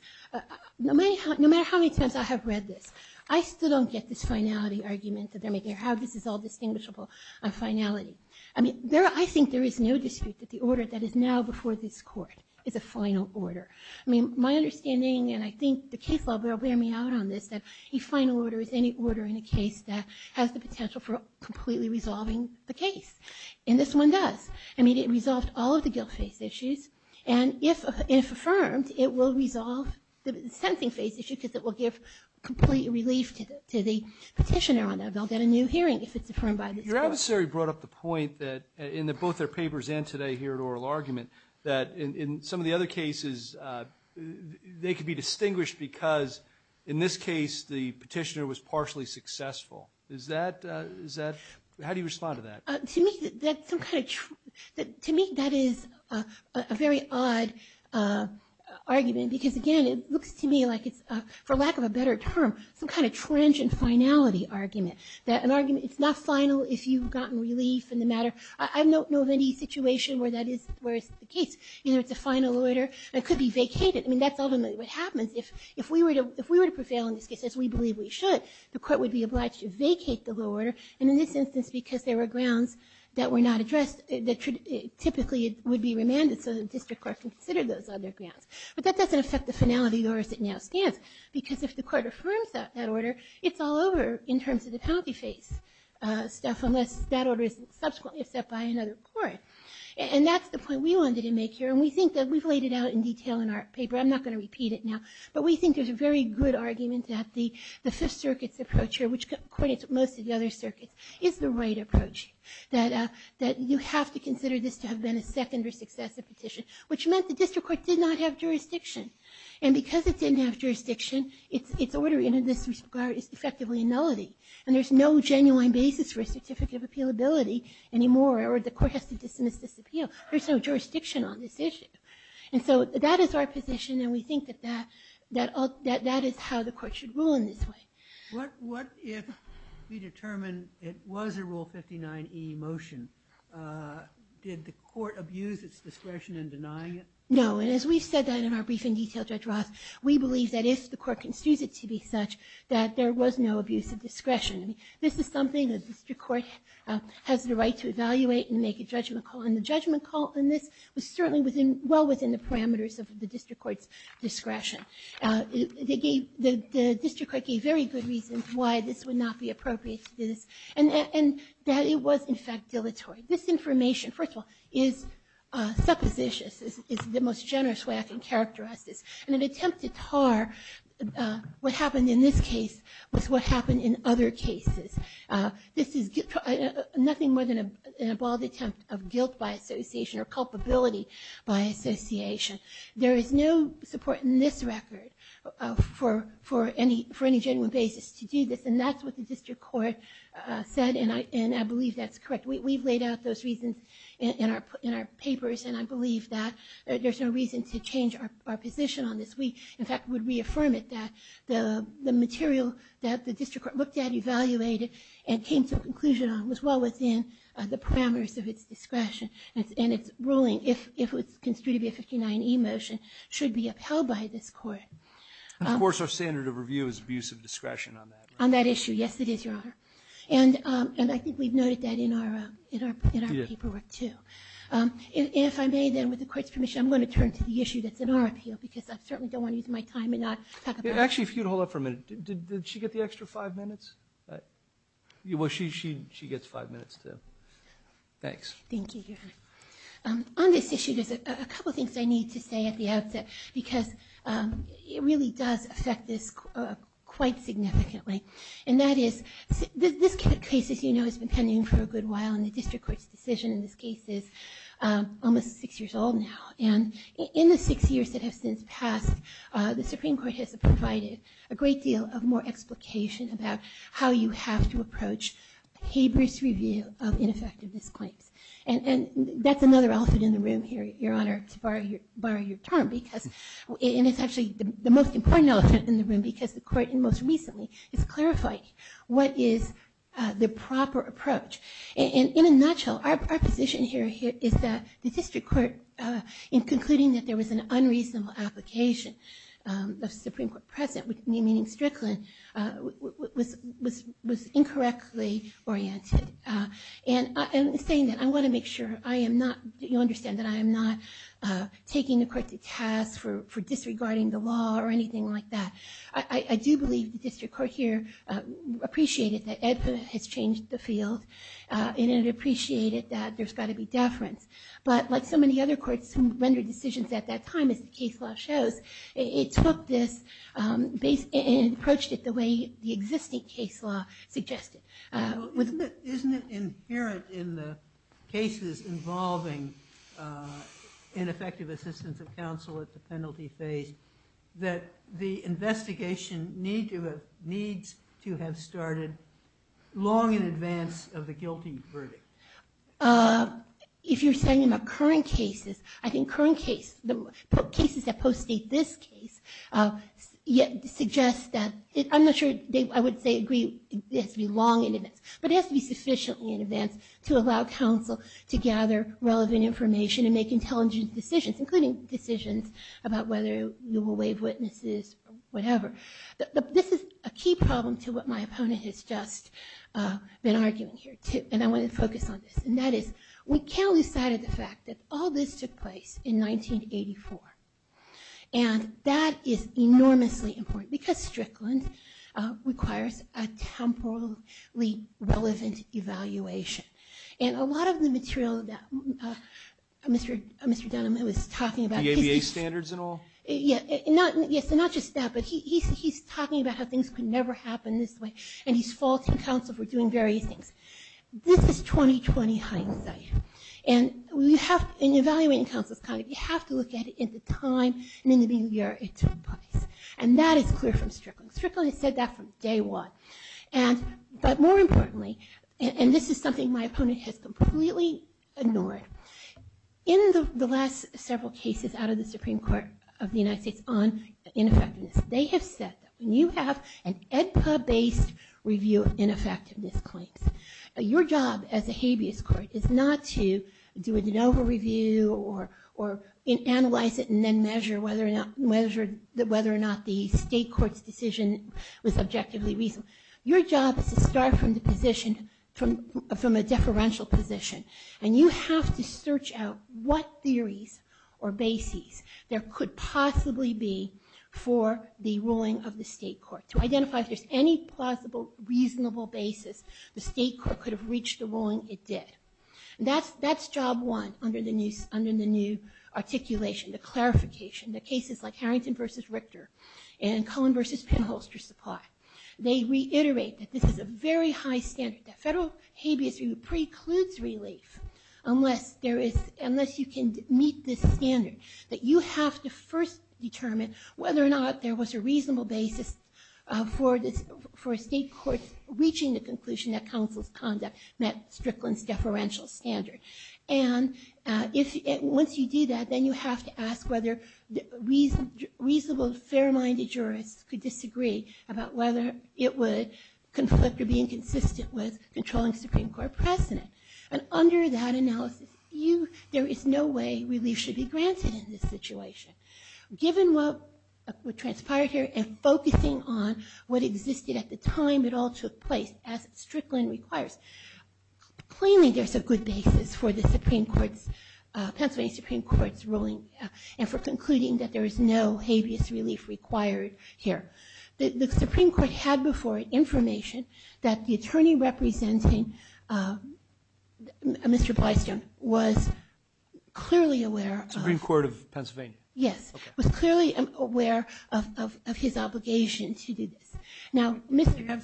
No matter how many times I have read this, I still don't get this finality argument that they're making, how this is all distinguishable on finality. I think there is no dispute that the order that is now before this court is a final order. My understanding, and I think the case law will bear me out on this, that a final order is any order in a case that has the potential for completely resolving the case. And this one does. It resolves all of the guilt-faced issues. And if affirmed, it will resolve the sentencing-faced issue because it will give complete relief to the petitioner on that. They'll get a new hearing if it's affirmed by this court. Your adversary brought up the point that in both their papers and today here at Oral Argument, that in some of the other cases, they could be distinguished because, in this case, the petitioner was partially successful. How do you respond to that? To me, that is a very odd argument because, again, it looks to me like it's, for lack of a better term, some kind of transient finality argument, that an argument is not final if you've gotten relief in the matter. I don't know of any situation where that is the case. You know, it's a final order that could be vacated. I mean, that's ultimately what happens. If we were to prevail in this case, as we believe we should, the court would be obliged to vacate the lower order. And in this instance, because there were grounds that were not addressed, typically it would be remanded so the district court considered those other grounds. But that doesn't affect the finality laws that now stand because if the court affirms that order, it's all over in terms of the copy-paste stuff unless that order is subsequently accepted by another court. And that's the point we wanted to make here. And we think that we've laid it out in detail in our paper. I'm not going to repeat it now. But we think there's a very good argument that the Fifth Circuit's approach here, which coordinates with most of the other circuits, is the right approach, that you have to consider this to have been a secondary success of the petition, which meant the district court did not have jurisdiction. And because it didn't have jurisdiction, its order in this regard is effectively nullity. And there's no genuine basis for a certificate of appealability anymore, or the court has to dismiss this appeal. There's no jurisdiction on this issue. And so that is our position, and we think that that is how the court should rule in this way. What if we determine it was a Rule 59e motion? Did the court abuse its discretion in denying it? No, and as we've said that in our briefing detail, Judge Ross, we believe that if the court concedes it to be such, that there was no abuse of discretion. This is something the district courts have the right to evaluate and make a judgment call. And the judgment call in this was certainly well within the parameters of the district court's discretion. The district court gave very good reasons why this would not be appropriate to do this. And that it was, in fact, dilatory. This information, first of all, is suppositious. It's the most generous way I can characterize it. And an attempt to tar what happened in this case with what happened in other cases. This is nothing more than an involved attempt of guilt by association or culpability by association. There is no support in this record for any genuine basis to do this, and that's what the district court said, and I believe that's correct. We've laid out those reasons in our papers, and I believe that there's no reason to change our position on this. We, in fact, would reaffirm it, that the material that the district court looked at, evaluated, and came to a conclusion on was well within the parameters of its discretion. And its ruling, if it was construed to be a 59E motion, should be upheld by this court. Of course, our standard of review is abuse of discretion on that. On that issue, yes, it is, Your Honor. And I think we've noted that in our paperwork, too. If I may, then, with the court's permission, I'm going to turn to the issue that's in our appeal, because I certainly don't want to use my time and not talk about it. Actually, if you'd hold up for a minute, did she get the extra five minutes? Well, she gets five minutes, too. Thanks. Thank you, Your Honor. On this issue, there's a couple things I need to say at the outset, because it really does affect this quite significantly. And that is, this case, as you know, has been pending for a good while, and the district court's decision in this case is almost six years old now. And in the six years that have since passed, the Supreme Court has provided a great deal of more explication about how you have to approach paper's review of ineffective misconduct. And that's another outfit in the room here, Your Honor, to borrow your term. And it's actually the most important outfit in the room, because the court most recently has clarified what is the proper approach. And in a nutshell, our position here is that the district court, in concluding that there was an unreasonable application of the Supreme Court present, meaning Strickland, was incorrectly oriented. And in saying that, I want to make sure that you understand that I am not taking the court to task for disregarding the law or anything like that. I do believe the district court here appreciated that EDSA has changed the field, and it appreciated that there's got to be deference. But like so many other courts who rendered decisions at that time, as the case law shows, it took this and approached it the way the existing case law suggested. Isn't it inherent in the cases involving ineffective assistance of counsel at the penalty stage that the investigation needs to have started long in advance of the guilty verdict? If you're saying about current cases, I think current cases, the cases that postdate this case, suggest that... I'm not sure they agree it has to be long in advance, but it has to be sufficiently in advance to allow counsel to gather relevant information and make intelligent decisions, including decisions about whether you will waive witnesses, whatever. This is a key problem to what my opponent has just been arguing here, and I want to focus on this, and that is we can't lose sight of the fact that all this took place in 1984. And that is enormously important, because Strickland requires a temporally relevant evaluation. And a lot of the material that Mr. Dunham was talking about... The ABA standards and all? Yes, and not just that, but he's talking about how things could never happen this way, and he's faulting counsel for doing various things. This is 2020 hindsight. And in evaluating counsel's conduct, you have to look at it in the time and in the year it took place. And that is clear from Strickland. Strickland has said that from day one. But more importantly, and this is something my opponent has completely ignored, in the last several cases out of the Supreme Court of the United States on ineffectiveness, they have said that when you have an EDCA-based review of ineffectiveness claims, your job as a habeas court is not to do a de novo review or analyze it and then measure whether or not the state court's decision was objectively reasonable. Your job is to start from a deferential position, and you have to search out what theories or bases there could possibly be for the ruling of the state court, to identify if there's any plausible, reasonable basis the state court could have reached a ruling it did. That's job one under the new articulation, the clarification. There are cases like Harrington v. Richter and Cullen v. Penholster's report. They reiterate that this is a very high standard, that federal habeas review precludes relief unless you can meet this standard, that you have to first determine whether or not there was a reasonable basis for a state court reaching the conclusion that counsel's conduct met Strickland's deferential standard. And once you do that, then you have to ask whether reasonable, fair-minded jurors could disagree about whether it would conflict or be inconsistent with controlling Supreme Court precedent. And under that analysis, there is no way relief should be granted in this situation. Given what transpired here and focusing on what existed at the time it all took place, as Strickland requires, plainly there's a good basis for the Pennsylvania Supreme Court's ruling and for concluding that there is no habeas relief required here. The Supreme Court had before it information that the attorney representing Mr. Blystown was clearly aware... The Supreme Court of Pennsylvania. Yes, was clearly aware of his obligation to do this. Do you have substantive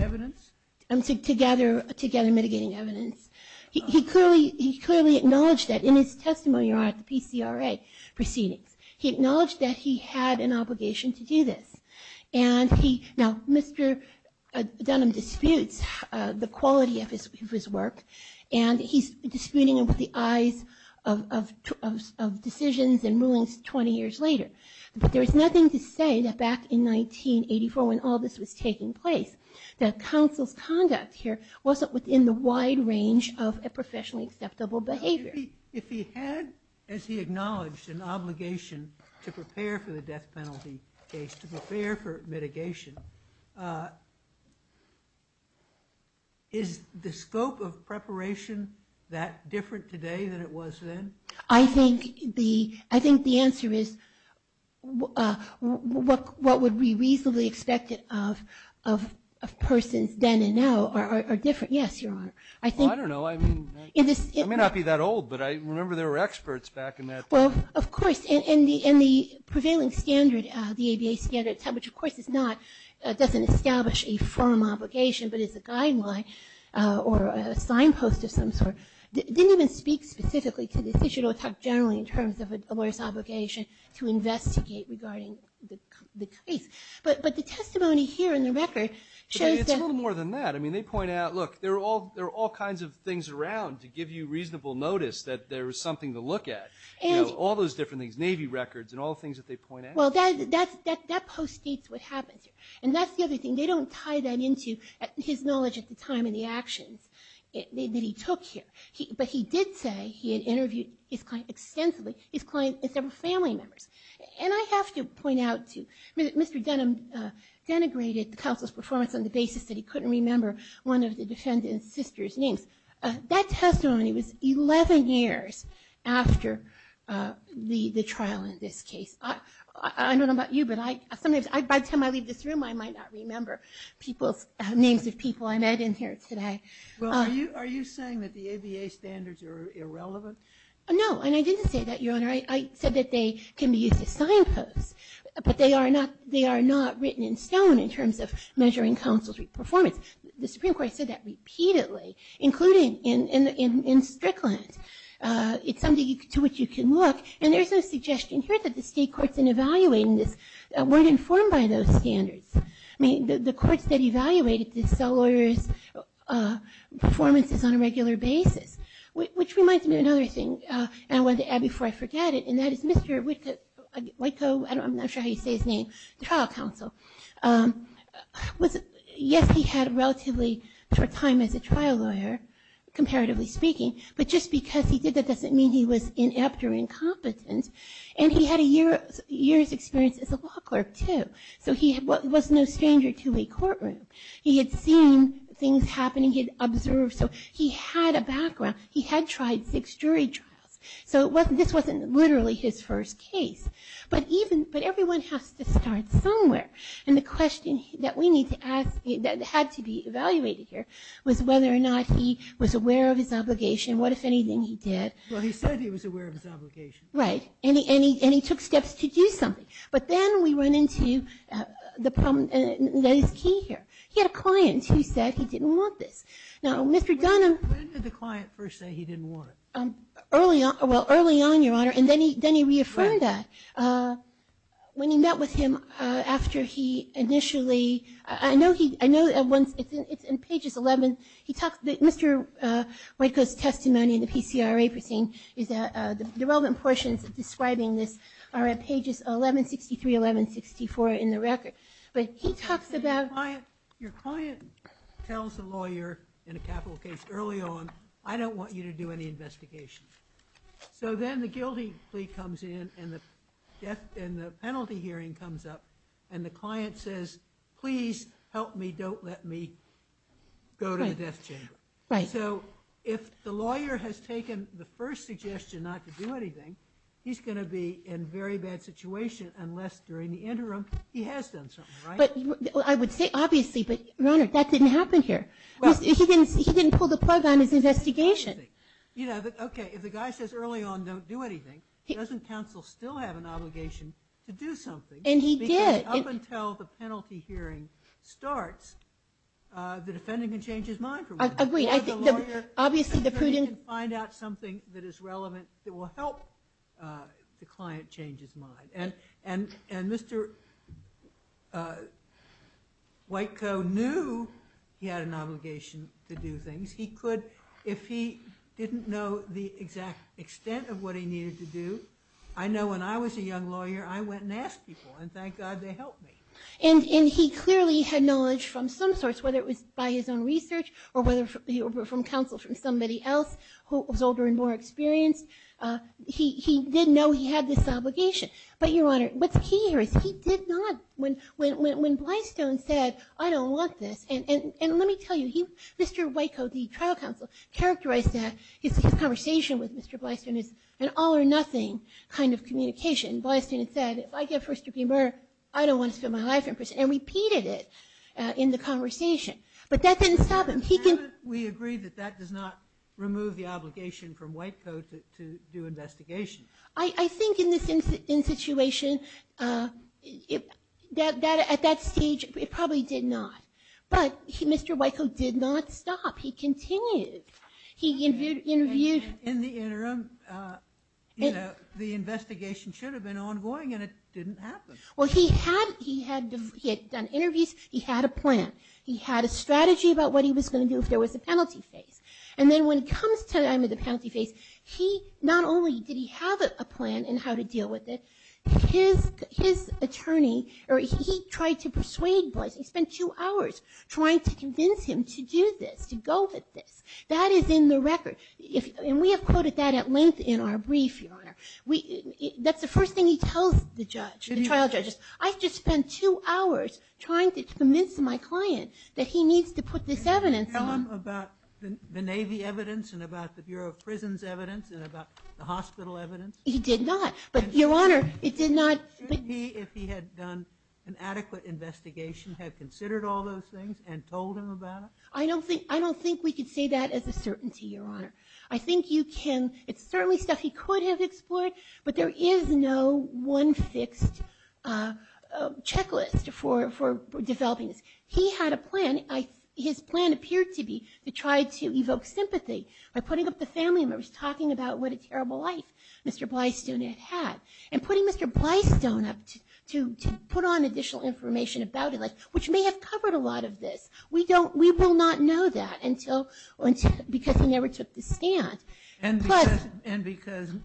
evidence? To gather mitigating evidence. He clearly acknowledged that in his testimony at the PCRA proceedings. He acknowledged that he had an obligation to do this. And he... Now, Mr. Dunham disputes the quality of his work, and he's disputing it with the eyes of decisions and rulings 20 years later. But there's nothing to say that back in 1984 when all this was taking place, that counsel's conduct here wasn't within the wide range of a professionally acceptable behavior. If he had, as he acknowledged, an obligation to prepare for the death penalty case, to prepare for mitigation, is the scope of preparation that different today than it was then? I think the answer is what would be reasonably expected of persons then and now are different. Yes, you are. I don't know. I may not be that old, but I remember there were experts back in that time. Well, of course. And the prevailing standard, the ABA standard, which, of course, doesn't establish a firm obligation but is a guideline or a signpost of some sort, didn't even speak specifically to this issue. It'll talk generally in terms of a lawyer's obligation to investigate regarding the case. But the testimony here in the record shows that... It's a little more than that. I mean, they point out, look, there are all kinds of things around to give you reasonable notice that there is something to look at. You know, all those different things, Navy records and all the things that they point out. Well, that post states what happened. And that's the other thing. They don't tie that into his knowledge at the time and the actions that he took here. But he did say he had interviewed his client extensively, his client and several family members. And I have to point out, too, Mr. Denham denigrated Counsel's performance on the basis that he couldn't remember one of the defendant's sister's name. That testimony was 11 years after the trial in this case. I don't know about you, but by the time I leave this room, I might not remember people's names of people I met in here today. Well, are you saying that the ABA standards are irrelevant? I said that they can be used as science posts. But they are not written in stone in terms of measuring counsel's performance. The Supreme Court said that repeatedly, including in Strickland. It's something to which you can look. And there's no suggestion here that the state courts in evaluating this weren't informed by those standards. I mean, the courts that evaluated this fellow lawyer's performance was on a regular basis, which reminds me of another thing. And I wanted to add before I forget it. And that is Mr. Oiko, I'm not sure how you say his name, trial counsel. Yes, he had relatively short time as a trial lawyer, comparatively speaking. But just because he did that doesn't mean he was inept or incompetent. And he had a year's experience as a law clerk, too. So he was no stranger to a courtroom. He had seen things happen. He had observed. So he had a background. He had tried six jury trials. So this wasn't literally his first case. But everyone has to start somewhere. And the question that had to be evaluated here was whether or not he was aware of his obligation. What, if anything, he did. Well, he said he was aware of his obligation. Right. And he took steps to do something. But then we run into the problem that is key here. He had a client who said he didn't want this. When did the client first say he didn't want it? Early on. Well, early on, Your Honor. And then he reaffirmed that when he met with him after he initially. I know it's in pages 11. Mr. Oiko's testimony in the PCRA is that the relevant portions describing this are on pages 1163, 1164 in the record. Your client tells a lawyer in a capital case early on, I don't want you to do any investigations. So then the guilty plea comes in and the penalty hearing comes up. And the client says, please help me. Don't let me go to the death chain. Right. So if the lawyer has taken the first suggestion not to do anything, he's going to be in a very bad situation unless during the interim he has done something. Right? I would say obviously. But, Your Honor, that didn't happen here. He didn't pull the plug on his investigation. Okay. If the guy says early on don't do anything, doesn't counsel still have an obligation to do something? And he did. Because up until the penalty hearing starts, the defendant can change his mind from there. I agree. Find out something that is relevant that will help the client change his mind. And Mr. Whitecoe knew he had an obligation to do things. If he didn't know the exact extent of what he needed to do, I know when I was a young lawyer I went and asked people, and thank God they helped me. And he clearly had knowledge from some source, whether it was by his own research or whether it was from counsel from somebody else who was older and more experienced. He did know he had this obligation. But, Your Honor, what's key here is he did not. When Blystone said I don't want this, and let me tell you, Mr. Whitecoe, the trial counsel, characterized that. It's a conversation with Mr. Blystone. It's an all or nothing kind of communication. Blystone said if I get first degree murder, I don't want to spend my life in prison. And he repeated it in the conversation. But that didn't stop him. We agree that that does not remove the obligation from Whitecoe to do investigations. I think in this situation, at that stage, it probably did not. But Mr. Whitecoe did not stop. He continued. In the interim, the investigation should have been ongoing, and it didn't happen. Well, he had done interviews. He had a plan. He had a strategy about what he was going to do if there was a penalty case. And then when it comes to the penalty case, not only did he have a plan in how to deal with it, his attorney, or he tried to persuade Blystone, he spent two hours trying to convince him to do this, to go with this. That is in the record. And we have quoted that at length in our brief, Your Honor. That's the first thing he tells the trial judges. I've just spent two hours trying to convince my client that he needs to put this evidence on. Did he tell them about the Navy evidence and about the Bureau of Prisons evidence and about the hospital evidence? He did not. But, Your Honor, it did not. Should he, if he had done an adequate investigation, have considered all those things and told them about it? I don't think we could say that as a certainty, Your Honor. I think you can. It's certainly stuff he could have explored, but there is no one fixed checklist for developing this. He had a plan. His plan appeared to be to try to evoke sympathy by putting up the family members talking about what a terrible life Mr. Blystone has had and putting Mr. Blystone up to put on additional information about him, which may have covered a lot of this. We will not know that because he never took the stand. And because the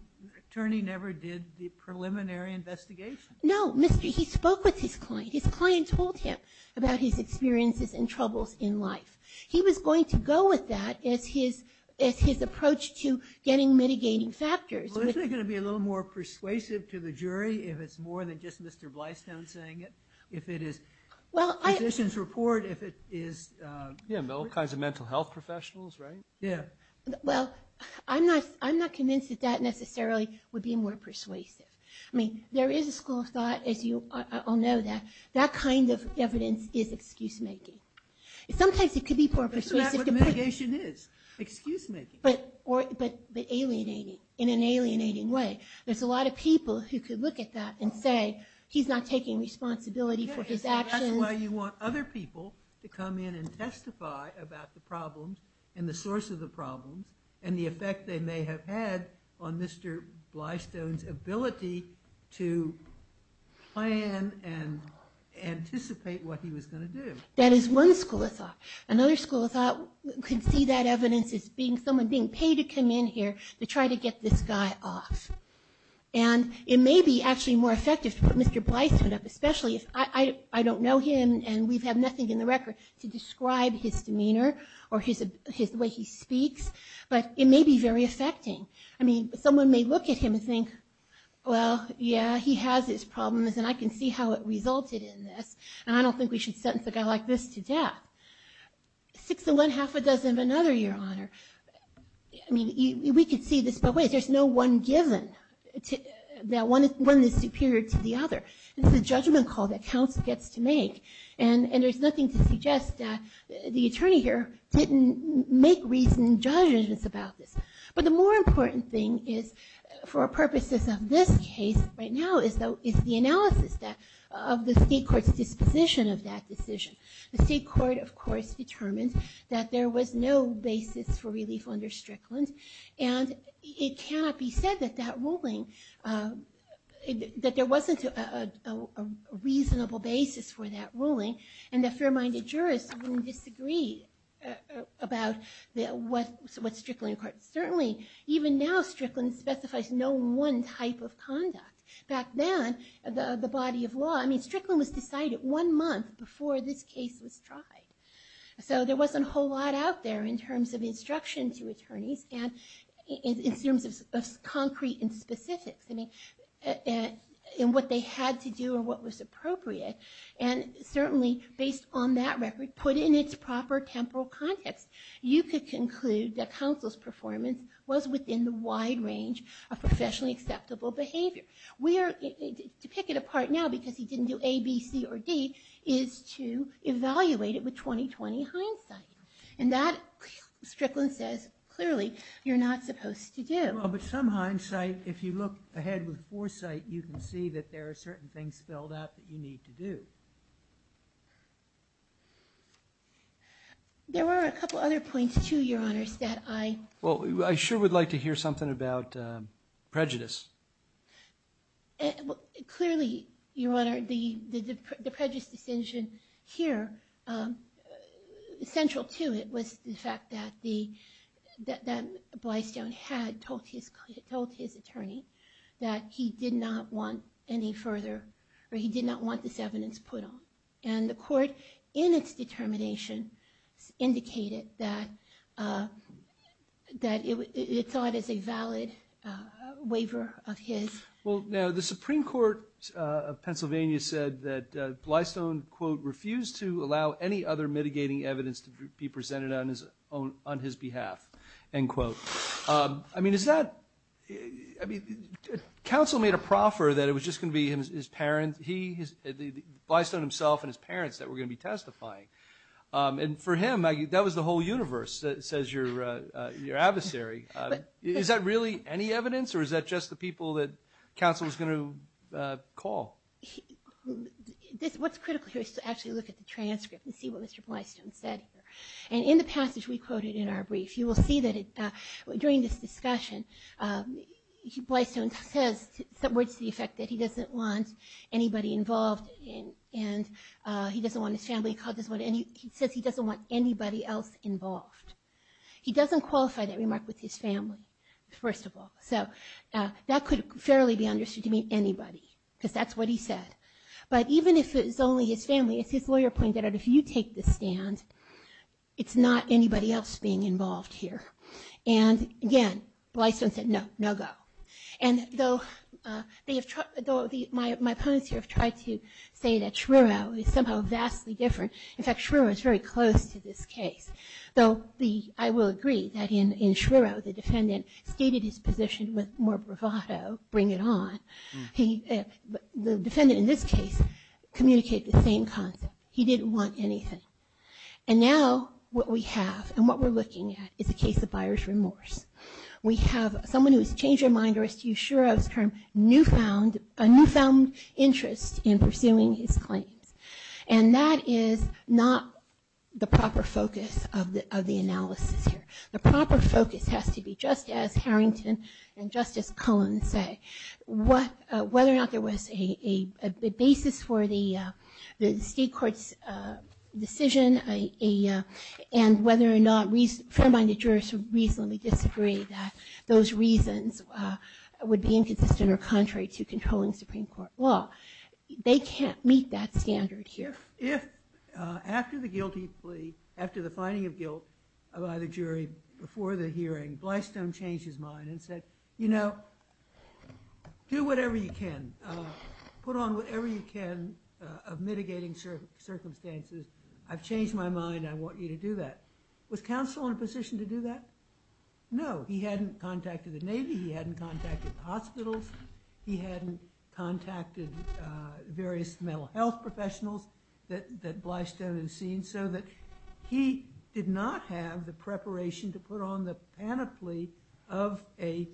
attorney never did the preliminary investigation? No. He spoke with his client. His client told him about his experiences and troubles in life. He was going to go with that as his approach to getting mitigating factors. Well, isn't it going to be a little more persuasive to the jury if it's more than just Mr. Blystone saying it? Well, I'm not convinced that that necessarily would be more persuasive. I mean, there is a school of thought, as you all know, that that kind of evidence is excuse-making. Sometimes it could be more persuasive. That's what mitigation is, excuse-making. But alienating, in an alienating way. There's a lot of people who could look at that and say he's not taking responsibility for his actions. That's why you want other people to come in and testify about the problems and the source of the problems and the effect they may have had on Mr. Blystone's ability to plan and anticipate what he was going to do. That is one school of thought. Another school of thought could see that evidence as someone being paid to come in here to try to get this guy off. And it may be actually more effective for Mr. Blystone, especially if I don't know him and we have nothing in the record to describe his demeanor or the way he speaks, but it may be very affecting. I mean, someone may look at him and think, well, yeah, he has his problems and I can see how it resulted in this, and I don't think we should sentence a guy like this to death. Six and one-half a dozen of another, Your Honor. I mean, we could see this, but wait, there's no one given, that one is superior to the other. This is a judgment call that counsel gets to make, and there's nothing to suggest that the attorney here didn't make recent judgments about this. But the more important thing is, for purposes of this case right now, is the analysis of the state court's disposition of that decision. The state court, of course, determined that there was no basis for relief under Strickland, and it cannot be said that that ruling, that there wasn't a reasonable basis for that ruling, and a fair-minded jurist wouldn't disagree about what Strickland... Certainly, even now, Strickland specifies no one type of conduct. Back then, the body of law... One month before this case was tried. So there wasn't a whole lot out there in terms of instruction to attorneys, and in terms of concrete and specifics, and what they had to do or what was appropriate, and certainly, based on that record, put in its proper temporal context, you could conclude that counsel's performance was within the wide range of professionally acceptable behavior. To take it apart now, because he didn't do A, B, C, or D, is to evaluate it with 20-20 hindsight. And that, Strickland says clearly, you're not supposed to do. Well, but some hindsight, if you look ahead with foresight, you can see that there are certain things spelled out that you need to do. There were a couple other points, too, Your Honors, that I... Well, I sure would like to hear something about prejudice. Clearly, Your Honor, the prejudice decision here, central to it was the fact that Blystone had told his attorney that he did not want any further... or he did not want this evidence put on. And the court, in its determination, indicated that it was thought as a valid waiver of his... Well, now, the Supreme Court of Pennsylvania said that Blystone, quote, refused to allow any other mitigating evidence to be presented on his behalf, end quote. I mean, is that... I mean, counsel made a proffer that it was just going to be his parents, Blystone himself and his parents that were going to be testifying. And for him, that was the whole universe, says your adversary. Is that really any evidence, or is that just the people that counsel is going to call? What's critical here is to actually look at the transcript and see what Mr. Blystone said. And in the passage we quoted in our brief, you will see that during this discussion, Blystone says some words to the effect that he doesn't want anybody involved, and he doesn't want his family, and he says he doesn't want anybody else involved. He doesn't qualify that remark with his family, first of all. So that could fairly be understood to mean anybody, because that's what he said. But even if it's only his family, as his lawyer pointed out, if you take the stand, it's not anybody else being involved here. And again, Blystone said no, no go. And though my opponents here have tried to say that Schreierow is somehow vastly different. In fact, Schreierow is very close to this case. Though I will agree that in Schreierow, the defendant stated his position with more bravado, bring it on. The defendant in this case communicates the same concept. He didn't want anything. And now what we have and what we're looking at is a case of buyer's remorse. We have someone who has changed their mind or is too sure of a newfound interest in pursuing his claim. And that is not the proper focus of the analysis here. The proper focus has to be just as Harrington and Justice Cohen say, whether or not there was a basis for the state court's decision and whether or not fair-minded jurors reasonably disagree that those reasons would be inconsistent or contrary to controlling Supreme Court law. They can't meet that standard here. If after the guilty plea, after the finding of guilt by the jury before the hearing, Blystone changed his mind and said, you know, do whatever you can. Put on whatever you can of mitigating circumstances. I've changed my mind. I want you to do that. Was counsel in a position to do that? No. He hadn't contacted the Navy. He hadn't contacted hospitals. He hadn't contacted various mental health professionals that Blystone had seen, so that he did not have the preparation to put on the panoply of a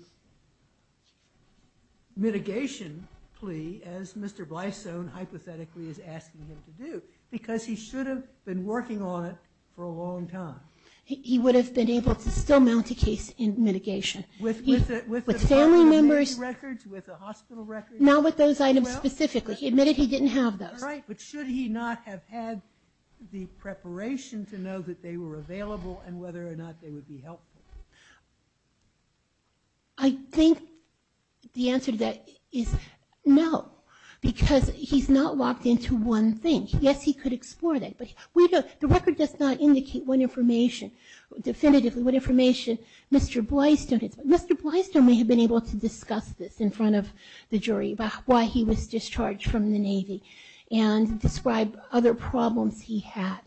mitigation plea as Mr. Blystone hypothetically is asking him to do because he should have been working on it for a long time. He would have been able to still mount a case in mitigation. With family members? With the hospital records? Not with those items specifically. He admitted he didn't have those. Right, but should he not have had the preparation to know that they were available and whether or not they would be helpful? I think the answer to that is no because he's not locked into one thing. Yes, he could explore that, but the record does not indicate definitively what information Mr. Blystone had. Mr. Blystone may have been able to discuss this in front of the jury about why he was discharged from the Navy and describe other problems he had.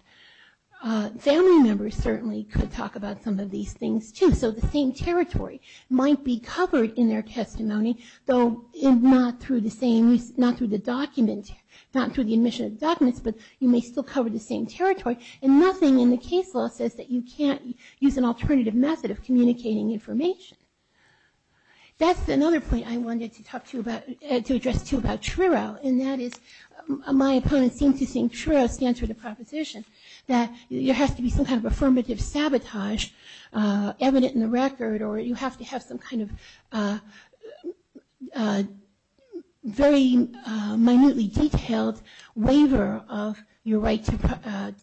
Family members certainly could talk about some of these things, too, so the same territory might be covered in their testimony, though not through the admission of the documents, but you may still cover the same territory, and nothing in the case law says that you can't use an alternative method of communicating information. That's another point I wanted to address, too, about TRIRO, and that is my opponent seems to think TRIRO stands for the proposition that there has to be some kind of affirmative sabotage evident in the record or you have to have some kind of very minutely detailed waiver of your right to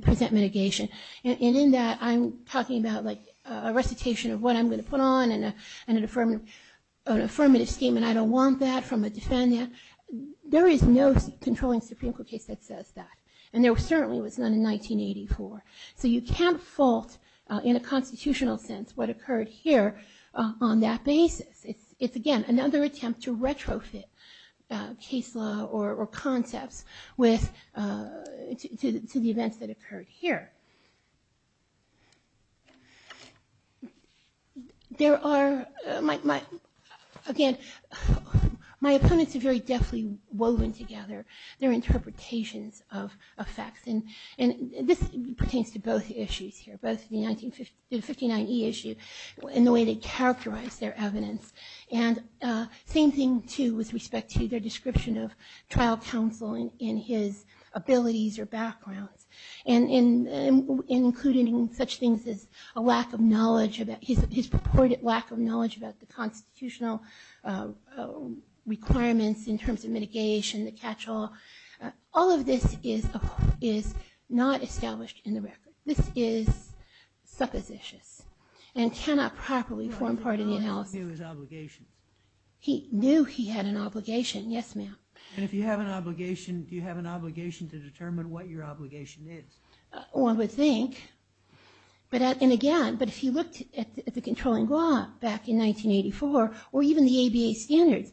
present mitigation, and in that I'm talking about a recitation of what I'm going to put on and an affirmative statement. I don't want that from a defendant. There is no controlling supreme court case that says that, and there certainly was none in 1984, so you can't fault in a constitutional sense what occurred here on that basis. It's, again, another attempt to retrofit case law or concepts to the events that occurred here. There are, again, my opponents are very deftly woven together. They're interpretations of facts, and this pertains to both issues here, both the 1959 e-issues and the way they characterize their evidence, and the same thing, too, with respect to their description of trial counsel and his abilities or background, and including such things as a lack of knowledge, his purported lack of knowledge about the constitutional requirements in terms of mitigation, the catch-all. All of this is not established in the record. This is suppositious and cannot properly form part of the analysis. He knew he had an obligation, yes, ma'am. And if you have an obligation, do you have an obligation to determine what your obligation is? One would think, and again, but if you looked at the controlling law back in 1984 or even the ABA standards,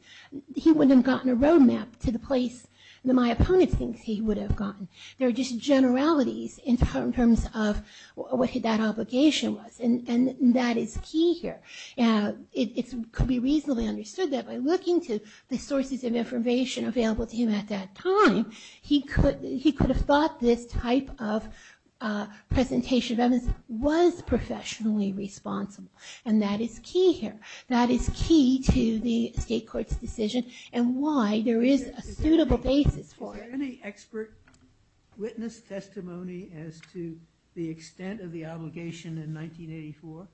he wouldn't have gotten a roadmap to the place that my opponent thinks he would have gotten. There are just generalities in terms of what that obligation was, and that is key here. It could be reasonably understood that by looking to the sources of information available to him at that time, he could have thought this type of presentation of evidence was professionally responsible, and that is key here. That is key to the state court's decision and why there is a suitable basis for it. Is there any expert witness testimony as to the extent of the obligation in 1984?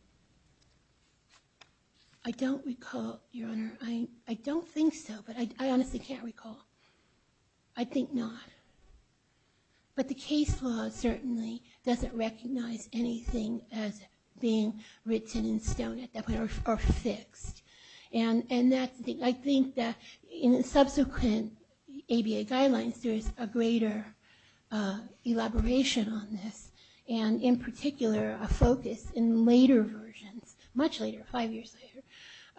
I don't recall, Your Honor. I don't think so, but I honestly can't recall. I think not. But the case law certainly doesn't recognize anything as being written in stone at that point or fixed. And I think that in subsequent ABA guidelines, there is a greater elaboration on this, and in particular a focus in later versions, much later, five years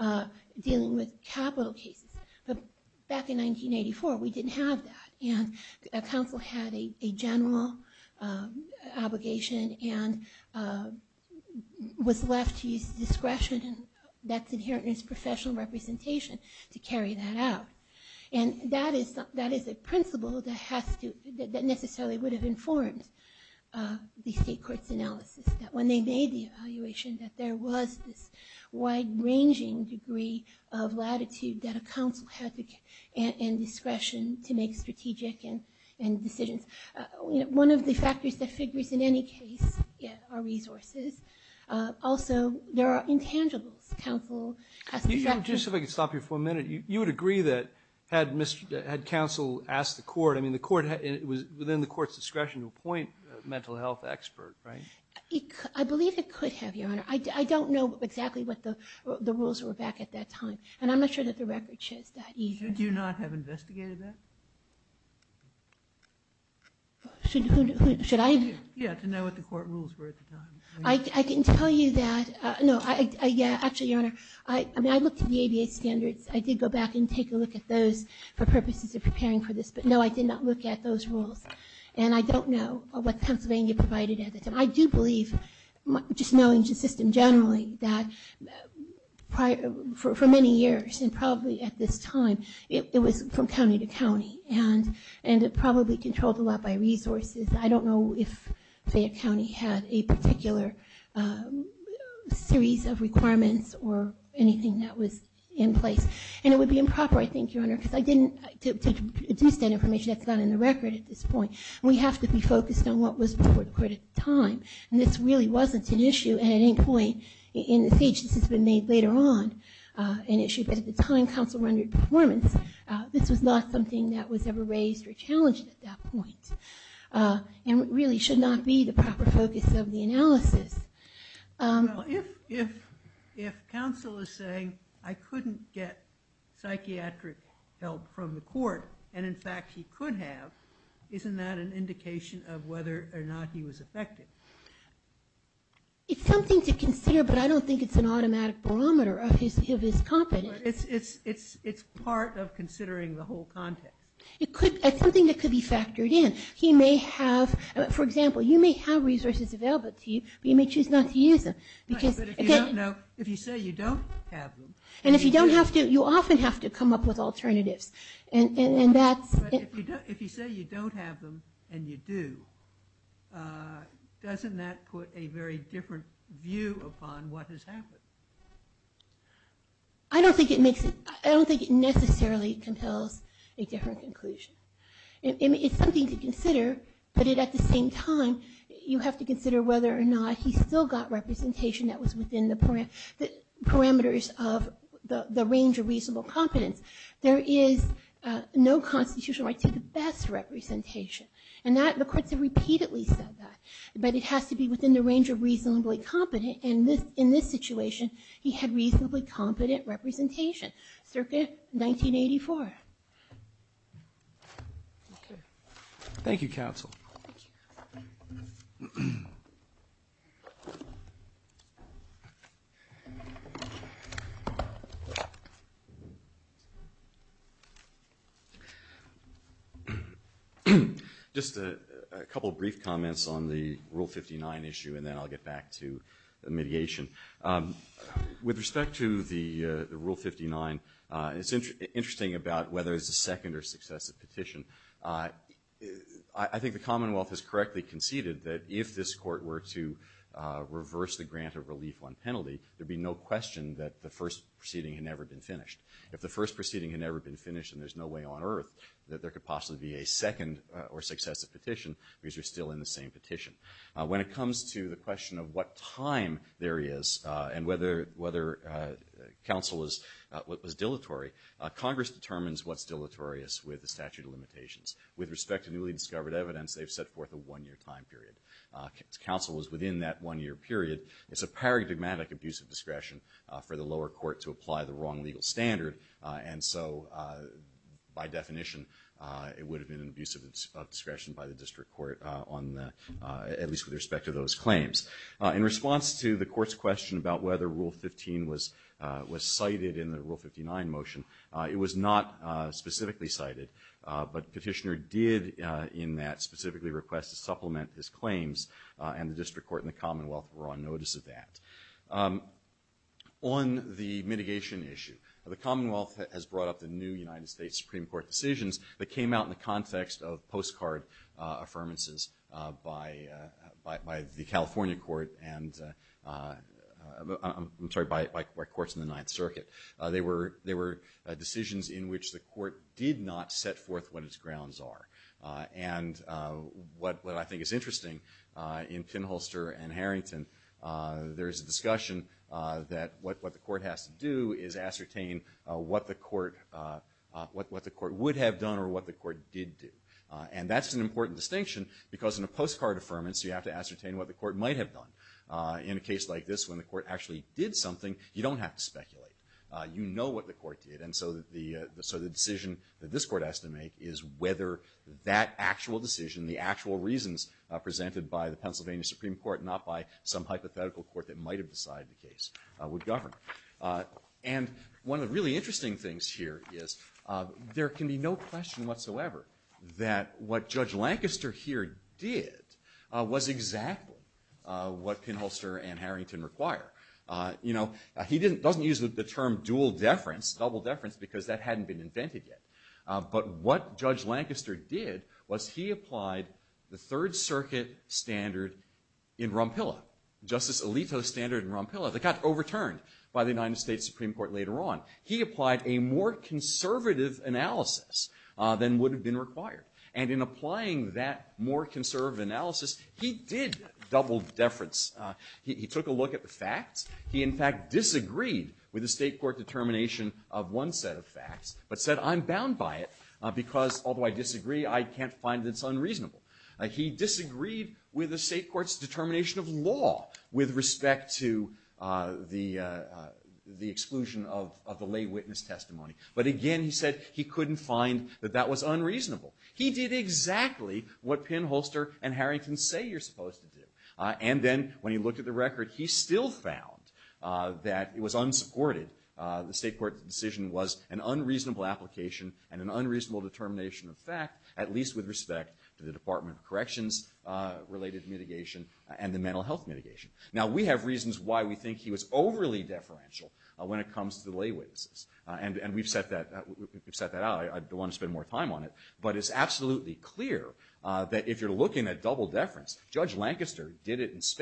later, dealing with capital cases. Back in 1984, we didn't have that, and a counsel had a general obligation and was left to use discretion that's inherent in his professional representation to carry that out. And that is a principle that necessarily would have informed the state court's analysis. When they made the evaluation, there was this wide-ranging degree of latitude that a counsel had in discretion to make strategic decisions. One of the factors that figures in any case are resources. Also, there are intangible counsel... Just if I could stop you for a minute. You would agree that had counsel asked the court... I mean, it was within the court's discretion to appoint a mental health expert, right? I believe it could have, Your Honor. I don't know exactly what the rules were back at that time, and I'm not sure that the record shows that either. Did you not have investigated that? Should I... Yeah, to know what the court rules were at the time. I didn't tell you that. No, yeah, actually, Your Honor. I mean, I looked at the ADA standards. I did go back and take a look at those for purposes of preparing for this, but no, I did not look at those rules. And I don't know what Pennsylvania provided at the time. I do believe, just knowing the system generally, that for many years and probably at this time, it was from county to county, and it probably controlled a lot by resources. I don't know if, say, a county had a particular series of requirements or anything that was in place. And it would be improper, I think, Your Honor, because I didn't... It's not that information that's not in the record at this point. We have to be focused on what was before the court at the time, and this really wasn't an issue at any point in the state. This has been made later on an issue, but at the time counsel rendered performance, this was not something that was ever raised or challenged at that point. And it really should not be the proper focus of the analysis. If counsel is saying, I couldn't get psychiatric help from the court, and in fact he could have, isn't that an indication of whether or not he was affected? It's something to consider, but I don't think it's an automatic barometer of his competence. It's part of considering the whole context. It's something that could be factored in. He may have, for example, you may have resources available to you, but you may choose not to use them. If you say you don't have them... And if you don't have to, you often have to come up with alternatives. If you say you don't have them and you do, doesn't that put a very different view upon what has happened? I don't think it necessarily can tell a different conclusion. It's something to consider, but at the same time you have to consider whether or not he still got representation that was within the parameters of the range of reasonable competence. There is no constitutional right to the best representation, and the courts have repeatedly said that, but it has to be within the range of reasonably competent, and in this situation, he had reasonably competent representation. Circuit 1984. Thank you, counsel. Just a couple of brief comments on the Rule 59 issue, and then I'll get back to the mediation. With respect to the Rule 59, it's interesting about whether it's a second or successive petition. I think the Commonwealth has correctly conceded that if this court were to reverse the grant of relief on penalty, there'd be no question that the first proceeding had never been finished. If the first proceeding had never been finished and there's no way on earth that there could possibly be a second or successive petition, because you're still in the same petition. When it comes to the question of what time there is and whether counsel is dilatory, Congress determines what's dilatory with the statute of limitations. With respect to newly discovered evidence, they've set forth a one-year time period. Counsel is within that one-year period. It's a paradigmatic abuse of discretion for the lower court to apply the wrong legal standard, and so by definition, it would have been an abuse of discretion by the district court, at least with respect to those claims. In response to the court's question about whether Rule 15 was cited in the Rule 59 motion, it was not specifically cited, but the petitioner did in that specifically request to supplement his claims, and the district court and the Commonwealth were on notice of that. On the mitigation issue, the Commonwealth has brought up the new United States Supreme Court decisions that came out in the context of postcard affirmances by the California court and... I'm sorry, by courts in the Ninth Circuit. They were decisions in which the court did not set forth what its grounds are, and what I think is interesting, in Finholster and Harrington, there's a discussion that what the court has to do is ascertain what the court... what the court would have done or what the court did do, and that's an important distinction because in a postcard affirmance, you have to ascertain what the court might have done. In a case like this, when the court actually did something, you don't have to speculate. You know what the court did, and so the decision that this court has to make is whether that actual decision, the actual reasons presented by the Pennsylvania Supreme Court, not by some hypothetical court that might have decided the case would govern. And one of the really interesting things here is there can be no question whatsoever that what Judge Lancaster here did was exactly what Finholster and Harrington require. You know, he doesn't use the term dual deference, double deference, because that hadn't been invented yet, but what Judge Lancaster did was he applied the Third Circuit standard in Rumpilla, Justice Alito's standard in Rumpilla. It got overturned by the United States Supreme Court later on. He applied a more conservative analysis than would have been required, and in applying that more conservative analysis, he did double deference. He took a look at the facts. He, in fact, disagreed with the state court's determination of one set of facts, but said, I'm bound by it because although I disagree, I can't find that it's unreasonable. He disagreed with the state court's determination of law with respect to the exclusion of the lay witness testimony, but again, he said he couldn't find that that was unreasonable. He did exactly what Finholster and Harrington say you're supposed to do, and then when he looked at the record, he still found that it was unsupported. The state court decision was an unreasonable application and an unreasonable determination of fact, at least with respect to the Department of Corrections-related mitigation and the mental health mitigation. Now, we have reasons why we think he was overly deferential when it comes to lay witnesses, and we've set that out. I don't want to spend more time on it, but it's absolutely clear that if you're looking at double deference, Judge Lancaster did it in state court.